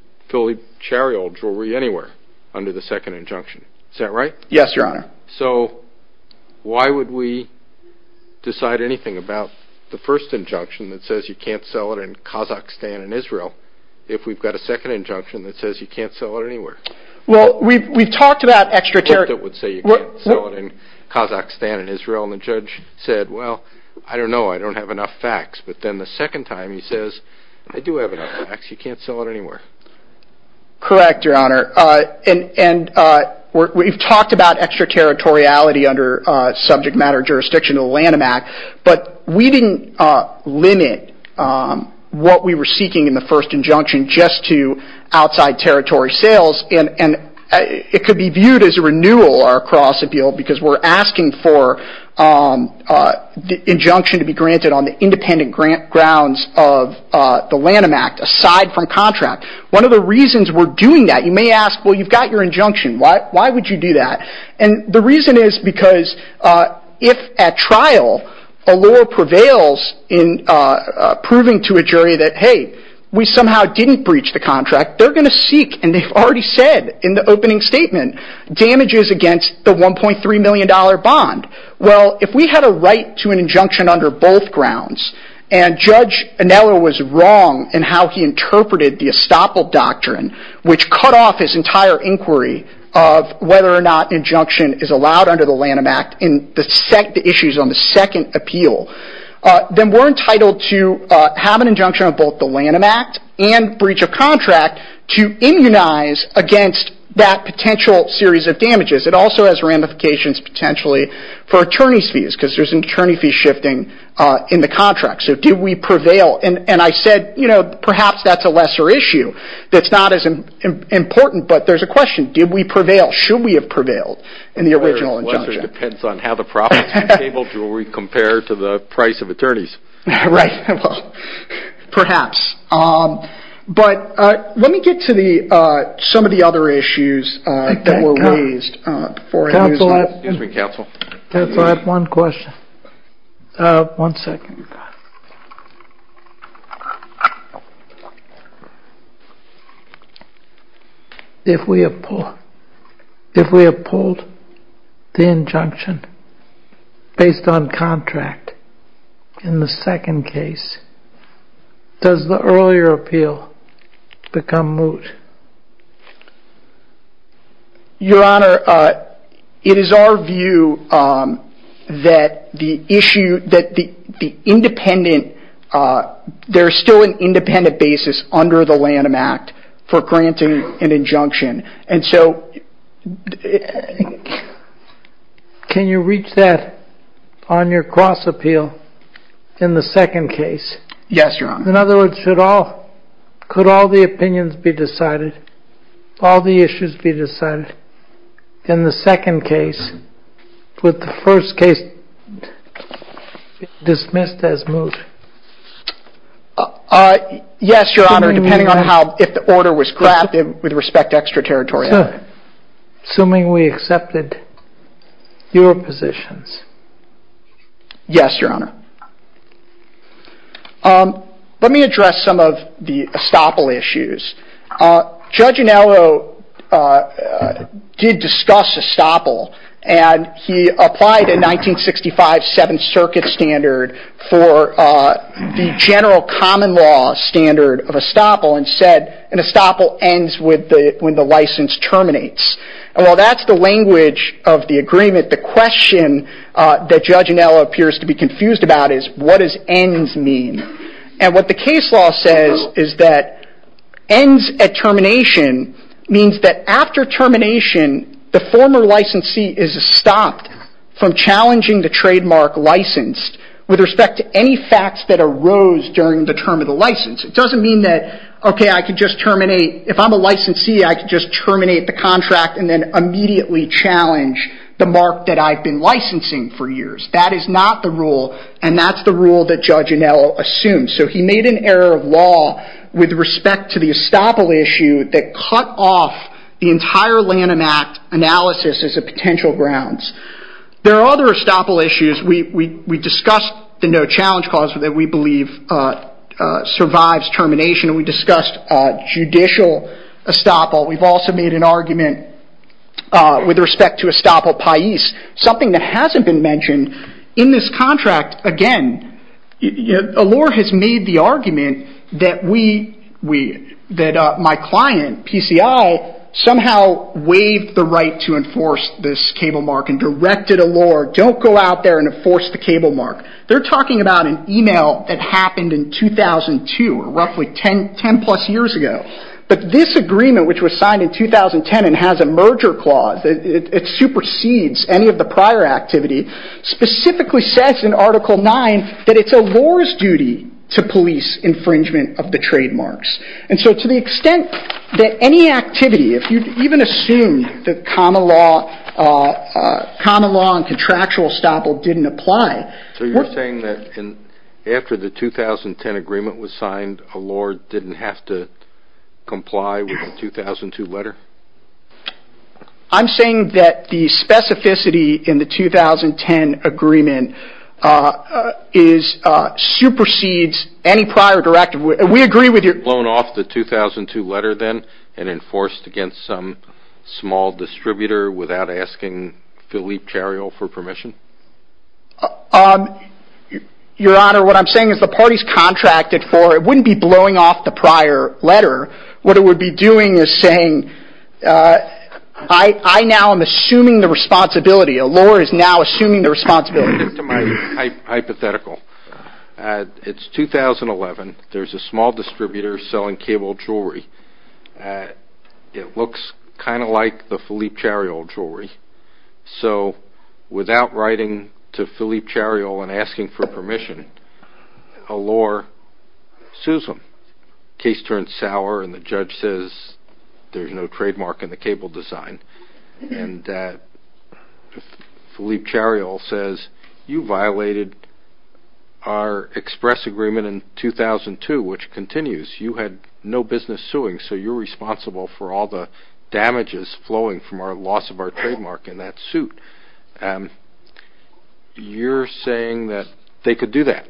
chariol jewelry anywhere under the second injunction. Is that right? Yes, Your Honor. So why would we decide anything about the first injunction that says you can't sell it in Kazakhstan and Israel, if we've got a second injunction that says you can't sell it anywhere? Well, we've talked about extraterritorialism. And the judge said, well, I don't know. I don't have enough facts. But then the second time he says, I do have enough facts. You can't sell it anywhere. Correct, Your Honor. And we've talked about extraterritoriality under subject matter jurisdiction of the Lanham Act, but we didn't limit what we were seeking in the first injunction just to outside territory sales, and it could be viewed as a renewal or a cross-appeal because we're asking for the injunction to be granted on the independent grounds of the Lanham Act aside from contract. One of the reasons we're doing that, you may ask, well, you've got your injunction. Why would you do that? And the reason is because if at trial Allure prevails in proving to a jury that, hey, we somehow didn't breach the contract, they're going to seek, and they've already said in the opening statement, damages against the $1.3 million bond. Well, if we had a right to an injunction under both grounds, and Judge Anello was wrong in how he interpreted the estoppel doctrine, which cut off his entire inquiry of whether or not injunction is allowed under the Lanham Act in the issues on the second appeal, then we're entitled to have an injunction of both the Lanham Act and breach of contract to immunize against that potential series of damages. It also has ramifications potentially for attorney's fees because there's an attorney fee shifting in the contract. So did we prevail? And I said, you know, perhaps that's a lesser issue that's not as important, but there's a question. Did we prevail? Should we have prevailed in the original injunction? It depends on how the profits are tabled to where we compare to the price of attorneys. Right. Perhaps. But let me get to some of the other issues that were raised. Counsel, I have one question. One second. If we have pulled the injunction based on contract in the second case, does the earlier appeal become moot? Your Honor, it is our view that the independent, there's still an independent basis under the Lanham Act for granting an injunction. And so can you reach that on your cross appeal in the second case? Yes, Your Honor. In other words, could all the opinions be decided, all the issues be decided in the second case with the first case dismissed as moot? Yes, Your Honor, depending on how, if the order was crafted with respect to extra territory. Assuming we accepted your positions. Yes, Your Honor. Let me address some of the estoppel issues. Judge Anello did discuss estoppel, and he applied a 1965 Seventh Circuit standard for the general common law standard of estoppel and said an estoppel ends when the license terminates. And while that's the language of the agreement, the question that Judge Anello appears to be confused about is what does ends mean? And what the case law says is that ends at termination means that after termination, the former licensee is stopped from challenging the trademark license with respect to any facts that arose during the term of the license. It doesn't mean that, okay, I could just terminate, if I'm a licensee, I could just terminate the contract and then immediately challenge the mark that I've been licensing for years. That is not the rule, and that's the rule that Judge Anello assumed. So he made an error of law with respect to the estoppel issue that cut off the entire Lanham Act analysis as a potential grounds. There are other estoppel issues. We discussed the no challenge clause that we believe survives termination. We discussed judicial estoppel. We've also made an argument with respect to estoppel paese, something that hasn't been mentioned in this contract. Again, Allure has made the argument that my client, PCI, somehow waived the right to enforce this cable mark and directed Allure, don't go out there and enforce the cable mark. They're talking about an email that happened in 2002, roughly 10 plus years ago. But this agreement, which was signed in 2010 and has a merger clause, it supersedes any of the prior activity, specifically says in Article 9 that it's Allure's duty to police infringement of the trademarks. And so to the extent that any activity, if you even assume that common law and contractual estoppel didn't apply. So you're saying that after the 2010 agreement was signed, Allure didn't have to comply with the 2002 letter? I'm saying that the specificity in the 2010 agreement supersedes any prior directive. We agree with you. Blown off the 2002 letter then and enforced against some small distributor without asking Philippe Cariol for permission? Your Honor, what I'm saying is the parties contracted for it wouldn't be blowing off the prior letter. What it would be doing is saying, I now am assuming the responsibility. Allure is now assuming the responsibility. To my hypothetical, it's 2011. There's a small distributor selling cable jewelry. It looks kind of like the Philippe Cariol jewelry. So without writing to Philippe Cariol and asking for permission, Allure sues them. Case turns sour and the judge says there's no trademark in the cable design. And Philippe Cariol says, you violated our express agreement in 2002, which continues. You had no business suing, so you're responsible for all the damages flowing from our loss of our trademark in that suit. You're saying that they could do that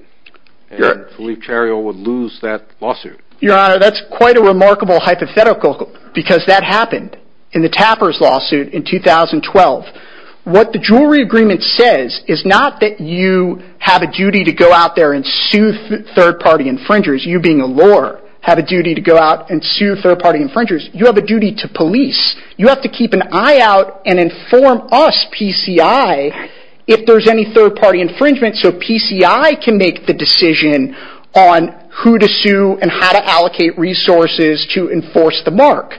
and Philippe Cariol would lose that lawsuit? Your Honor, that's quite a remarkable hypothetical because that happened in the Tapper's lawsuit in 2012. What the jewelry agreement says is not that you have a duty to go out there and sue third-party infringers. You, being Allure, have a duty to go out and sue third-party infringers. You have a duty to police. You have to keep an eye out and inform us, PCI, if there's any third-party infringement so PCI can make the decision on who to sue and how to allocate resources to enforce the mark.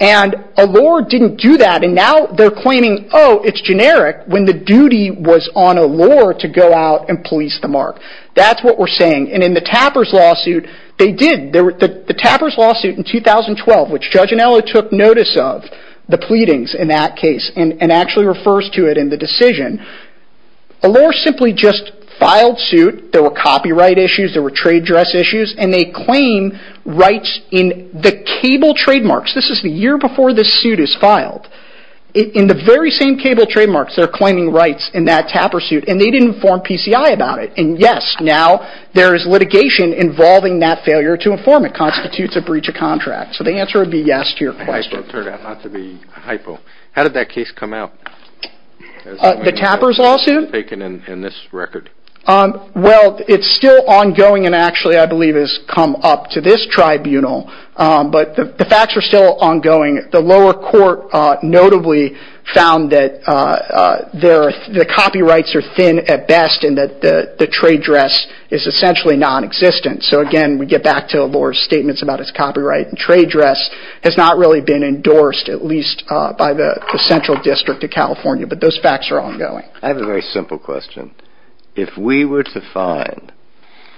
And Allure didn't do that and now they're claiming, oh, it's generic, when the duty was on Allure to go out and police the mark. That's what we're saying. And in the Tapper's lawsuit, they did. The Tapper's lawsuit in 2012, which Judge Anello took notice of the pleadings in that case and actually refers to it in the decision. Allure simply just filed suit. There were copyright issues. There were trade dress issues. And they claim rights in the cable trademarks. This is the year before the suit is filed. In the very same cable trademarks, they're claiming rights in that Tapper suit and they didn't inform PCI about it. And, yes, now there is litigation involving that failure to inform it constitutes a breach of contract. So the answer would be yes to your question. How did that case come out? The Tapper's lawsuit? Taken in this record. Well, it's still ongoing and actually I believe it has come up to this tribunal. But the facts are still ongoing. The lower court notably found that the copyrights are thin at best and that the trade dress is essentially nonexistent. So, again, we get back to Allure's statements about its copyright and trade dress. It's not really been endorsed, at least by the central district of California, but those facts are ongoing. I have a very simple question. If we were to find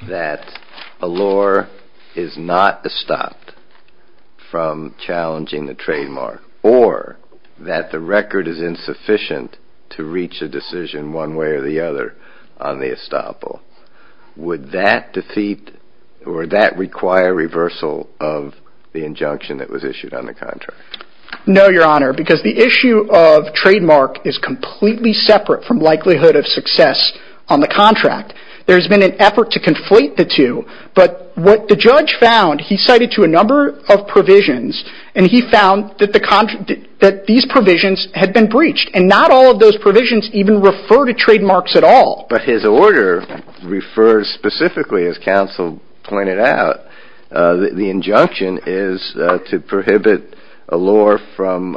that Allure is not estopped from challenging the trademark or that the record is insufficient to reach a decision one way or the other on the estoppel, would that defeat or that require reversal of the injunction that was issued on the contract? No, Your Honor, because the issue of trademark is completely separate from likelihood of success on the contract. There has been an effort to conflate the two, but what the judge found, he cited to a number of provisions and he found that these provisions had been breached. And not all of those provisions even refer to trademarks at all. But his order refers specifically, as counsel pointed out, that the injunction is to prohibit Allure from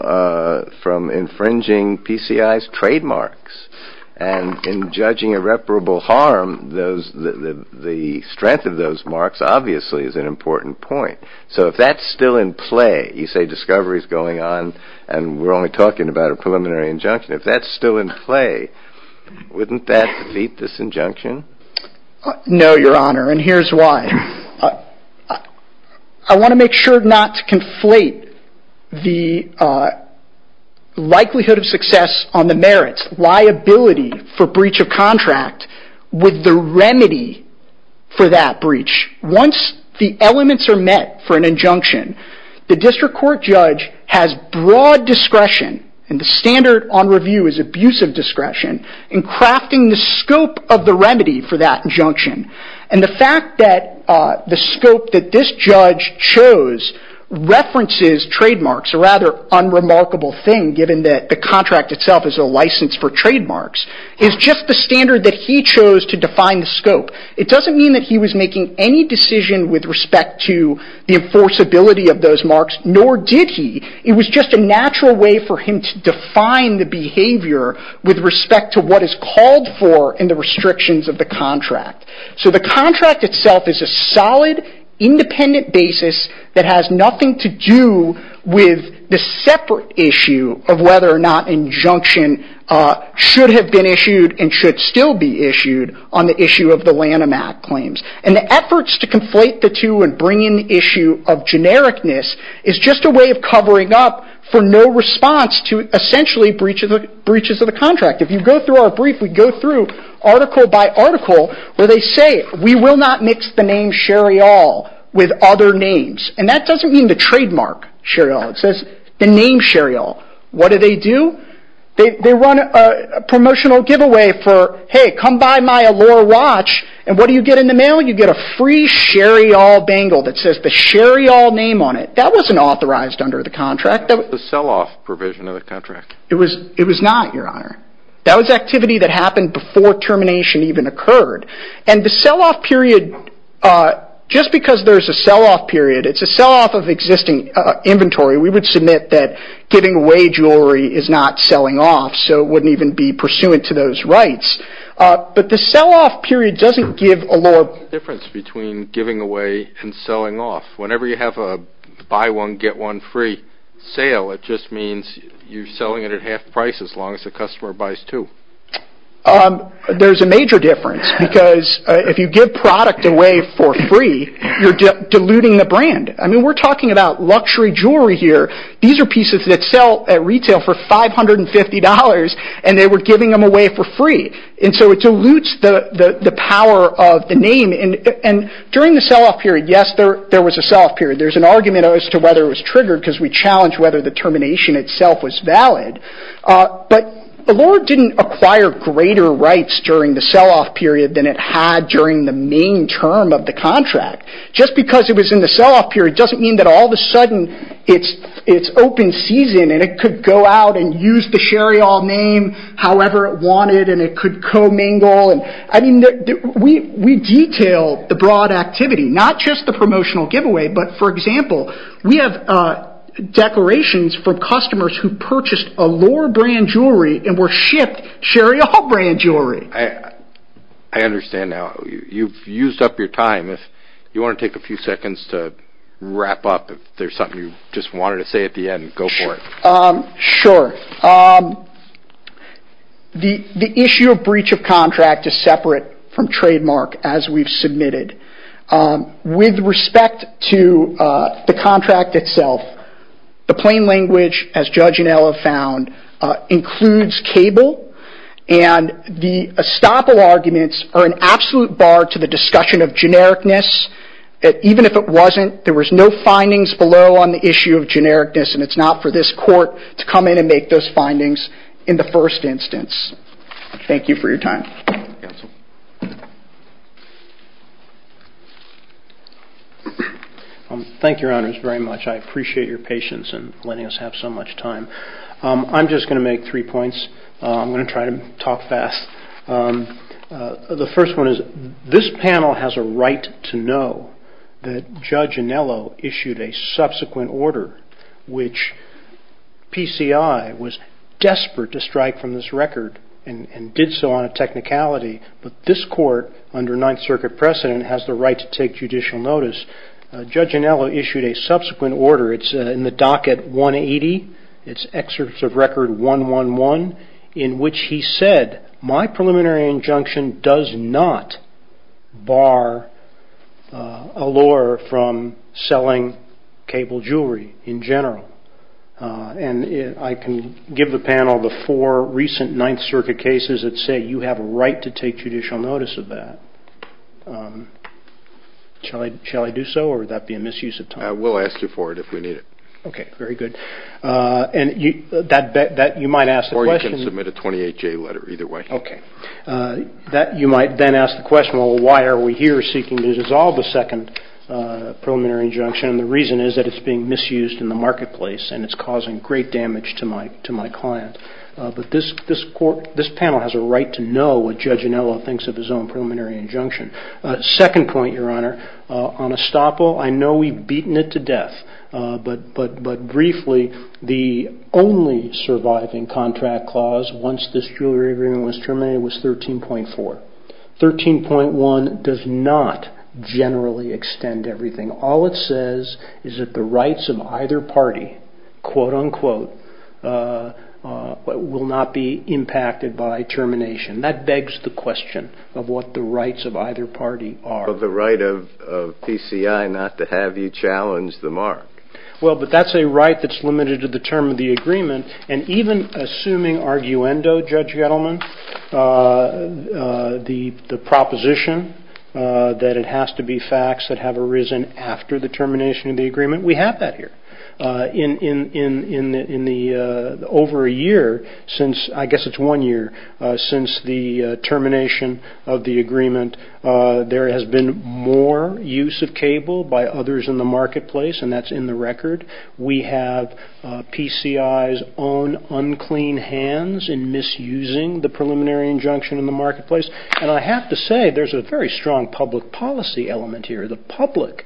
infringing PCI's trademarks. And in judging irreparable harm, the strength of those marks obviously is an important point. So if that's still in play, you say discovery is going on and we're only talking about a preliminary injunction. If that's still in play, wouldn't that defeat this injunction? No, Your Honor, and here's why. I want to make sure not to conflate the likelihood of success on the merits, liability for breach of contract, with the remedy for that breach. Once the elements are met for an injunction, the district court judge has broad discretion, and the standard on review is abusive discretion, in crafting the scope of the remedy for that injunction. And the fact that the scope that this judge chose references trademarks, a rather unremarkable thing given that the contract itself is a license for trademarks, is just the standard that he chose to define the scope. It doesn't mean that he was making any decision with respect to the enforceability of those marks, nor did he. It was just a natural way for him to define the behavior with respect to what is called for in the restrictions of the contract. So the contract itself is a solid, independent basis that has nothing to do with the separate issue of whether or not injunction should have been issued and should still be issued on the issue of the Lanham Act claims. And the efforts to conflate the two and bring in the issue of genericness is just a way of covering up for no response to, essentially, breaches of the contract. If you go through our brief, we go through article by article where they say, we will not mix the name Sherryall with other names. And that doesn't mean the trademark Sherryall. It says the name Sherryall. What do they do? They run a promotional giveaway for, hey, come buy my allure watch. And what do you get in the mail? You get a free Sherryall bangle that says the Sherryall name on it. That wasn't authorized under the contract. It was the sell-off provision of the contract. It was not, Your Honor. That was activity that happened before termination even occurred. And the sell-off period, just because there's a sell-off period, it's a sell-off of existing inventory. We would submit that giving away jewelry is not selling off, so it wouldn't even be pursuant to those rights. But the sell-off period doesn't give allure. What's the difference between giving away and selling off? Whenever you have a buy one, get one free sale, it just means you're selling it at half price as long as the customer buys two. There's a major difference because if you give product away for free, you're diluting the brand. I mean, we're talking about luxury jewelry here. These are pieces that sell at retail for $550, and they were giving them away for free. And so it dilutes the power of the name. And during the sell-off period, yes, there was a sell-off period. There's an argument as to whether it was triggered because we challenged whether the termination itself was valid. But allure didn't acquire greater rights during the sell-off period than it had during the main term of the contract. Just because it was in the sell-off period doesn't mean that all of a sudden it's open season, and it could go out and use the Sherry Hall name however it wanted, and it could co-mingle. I mean, we detail the broad activity, not just the promotional giveaway, but, for example, we have declarations for customers who purchased Allure brand jewelry and were shipped Sherry Hall brand jewelry. I understand now. You've used up your time. If you want to take a few seconds to wrap up, if there's something you just wanted to say at the end, go for it. Sure. The issue of breach of contract is separate from trademark as we've submitted. With respect to the contract itself, the plain language, as Judge Inella found, includes cable, and the estoppel arguments are an absolute bar to the discussion of genericness. Even if it wasn't, there was no findings below on the issue of genericness, and it's not for this court to come in and make those findings in the first instance. Thank you for your time. Thank you, Your Honors, very much. I appreciate your patience in letting us have so much time. I'm just going to make three points. I'm going to try to talk fast. The first one is this panel has a right to know that Judge Inella issued a subsequent order, which PCI was desperate to strike from this record and did so on a technicality, but this court under Ninth Circuit precedent has the right to take judicial notice. Judge Inella issued a subsequent order. It's in the docket 180. It's excerpt of record 111 in which he said, My preliminary injunction does not bar a lawyer from selling cable jewelry in general, and I can give the panel the four recent Ninth Circuit cases that say you have a right to take judicial notice of that. Shall I do so, or would that be a misuse of time? We'll ask you for it if we need it. Okay, very good. Or you can submit a 28-day letter either way. Okay. You might then ask the question, well, why are we here seeking to dissolve the second preliminary injunction, and the reason is that it's being misused in the marketplace and it's causing great damage to my client. But this panel has a right to know what Judge Inella thinks of his own preliminary injunction. Second point, Your Honor, on Estoppo, I know we've beaten it to death, but briefly, the only surviving contract clause once this jewelry agreement was terminated was 13.4. 13.1 does not generally extend everything. All it says is that the rights of either party, quote, unquote, will not be impacted by termination. That begs the question of what the rights of either party are. Well, the right of PCI not to have you challenge the mark. Well, but that's a right that's limited to the term of the agreement, and even assuming arguendo, Judge Gettleman, the proposition that it has to be facts that have arisen after the termination of the agreement, we have that here. In the over a year since, I guess it's one year since the termination of the agreement, there has been more use of cable by others in the marketplace, and that's in the record. We have PCI's own unclean hands in misusing the preliminary injunction in the marketplace, and I have to say there's a very strong public policy element here. The public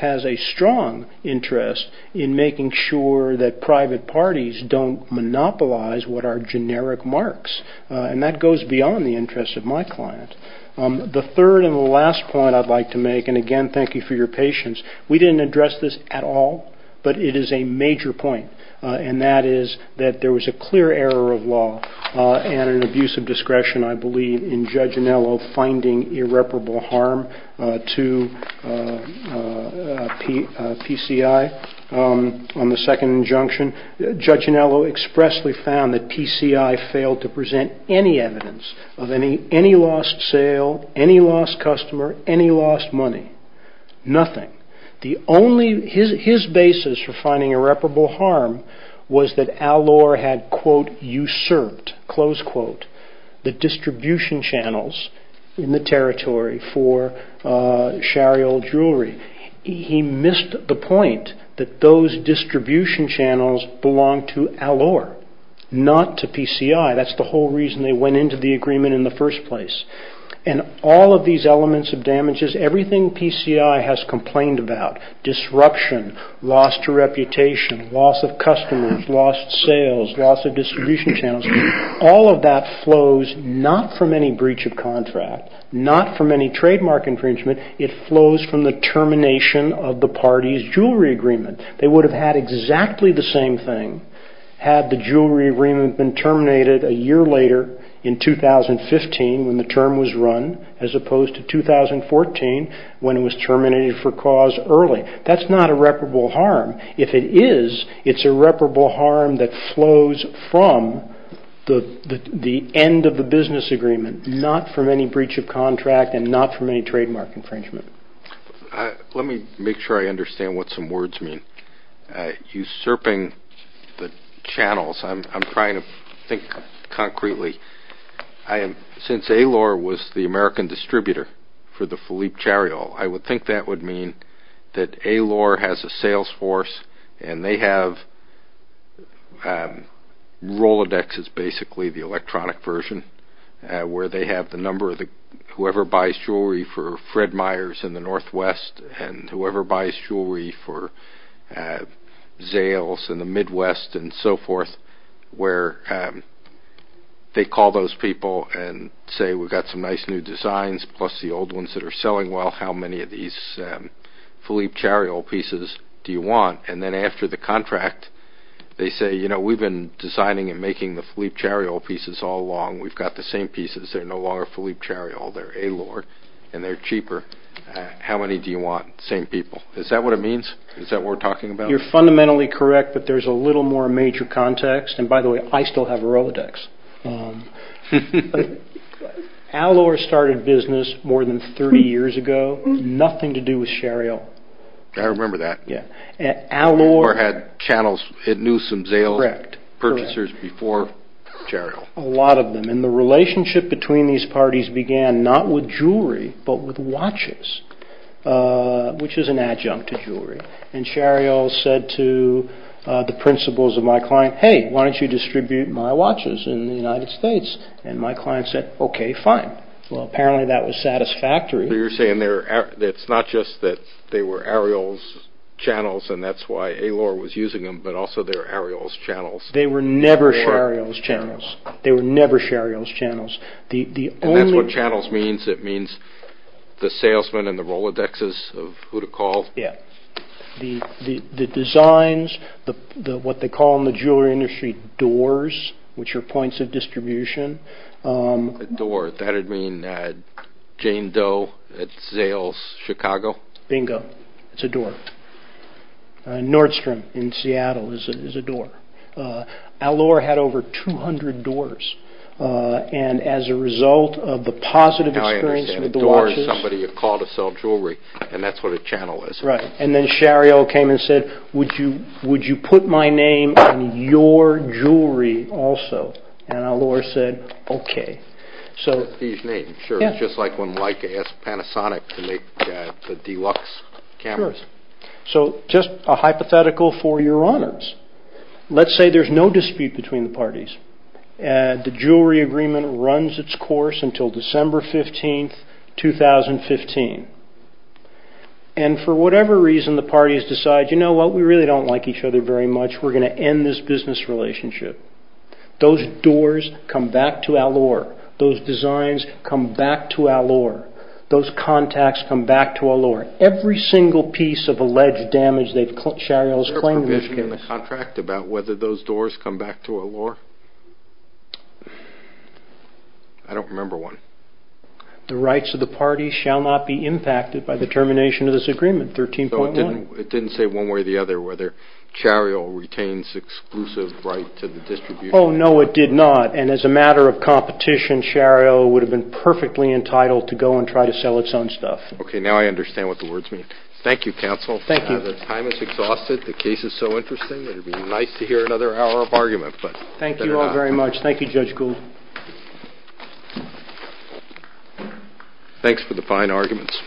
has a strong interest in making sure that private parties don't monopolize what are generic marks, and that goes beyond the interest of my client. The third and the last point I'd like to make, and again, thank you for your patience, we didn't address this at all, but it is a major point, and that is that there was a clear error of law and an abuse of discretion, I believe, in Judge Anello finding irreparable harm to PCI on the second injunction. Judge Anello expressly found that PCI failed to present any evidence of any lost sale, any lost customer, any lost money, nothing. His basis for finding irreparable harm was that Allure had, quote, usurped, close quote, the distribution channels in the territory for Shariol jewelry. He missed the point that those distribution channels belonged to Allure, not to PCI. That's the whole reason they went into the agreement in the first place. And all of these elements of damages, everything PCI has complained about, disruption, lost reputation, loss of customers, lost sales, loss of distribution channels, all of that flows not from any breach of contract, not from any trademark infringement, it flows from the termination of the party's jewelry agreement. They would have had exactly the same thing had the jewelry agreement been terminated a year later in 2015 when the term was run, as opposed to 2014 when it was terminated for cause early. That's not irreparable harm. If it is, it's irreparable harm that flows from the end of the business agreement, not from any breach of contract and not from any trademark infringement. Let me make sure I understand what some words mean. Usurping the channels, I'm trying to think concretely. Since Allure was the American distributor for the Philippe Shariol, I would think that would mean that Allure has a sales force and they have Rolodex, which is basically the electronic version, where they have the number of whoever buys jewelry for Fred Myers in the Northwest and whoever buys jewelry for Zales in the Midwest and so forth, where they call those people and say, we've got some nice new designs, plus the old ones that are selling well. How many of these Philippe Shariol pieces do you want? Then after the contract, they say, we've been designing and making the Philippe Shariol pieces all along. We've got the same pieces. They're no longer Philippe Shariol. They're Allure and they're cheaper. How many do you want? Same people. Is that what it means? Is that what we're talking about? You're fundamentally correct that there's a little more major context. By the way, I still have Rolodex. Allure started business more than 30 years ago, nothing to do with Shariol. I remember that. Allure had channels. It knew some Zales purchasers before Shariol. A lot of them. The relationship between these parties began not with jewelry but with watches, which is an adjunct to jewelry. Shariol said to the principals of my client, hey, why don't you distribute my watches in the United States? My client said, okay, fine. Apparently, that was satisfactory. You're saying it's not just that they were Ariol's channels and that's why Allure was using them but also they were Ariol's channels. They were never Shariol's channels. They were never Shariol's channels. That's what channels means. It means the salesmen and the Rolodexes of who to call. Yeah. The designs, what they call in the jewelry industry doors, which are points of distribution. A door. That would mean Jane Doe at Zales, Chicago. Bingo. It's a door. Nordstrom in Seattle is a door. Allure had over 200 doors. As a result of the positive experience with the watches. I understand. A door is somebody who called to sell jewelry. That's what a channel is. Right. Then Shariol came and said, would you put my name on your jewelry also? Allure said, okay. His name. Sure. Just like when Leica asked Panasonic to make the deluxe cameras. Sure. Just a hypothetical for your honors. Let's say there's no dispute between the parties. The jewelry agreement runs its course until December 15, 2015. For whatever reason, the parties decide, you know what? We really don't like each other very much. We're going to end this business relationship. Those doors come back to Allure. Those designs come back to Allure. Those contacts come back to Allure. Every single piece of alleged damage that Shariol's claim was against. There's a provision in the contract about whether those doors come back to Allure. I don't remember one. The rights of the parties shall not be impacted by the termination of this agreement, 13.1. It didn't say one way or the other whether Shariol retains exclusive right to the distribution. Oh, no, it did not. And as a matter of competition, Shariol would have been perfectly entitled to go and try to sell its own stuff. Okay. Now I understand what the words mean. Thank you, counsel. Thank you. The time is exhausted. The case is so interesting. It would be nice to hear another hour of argument. Thank you all very much. Thank you, Judge Gould. Thanks for the fine arguments.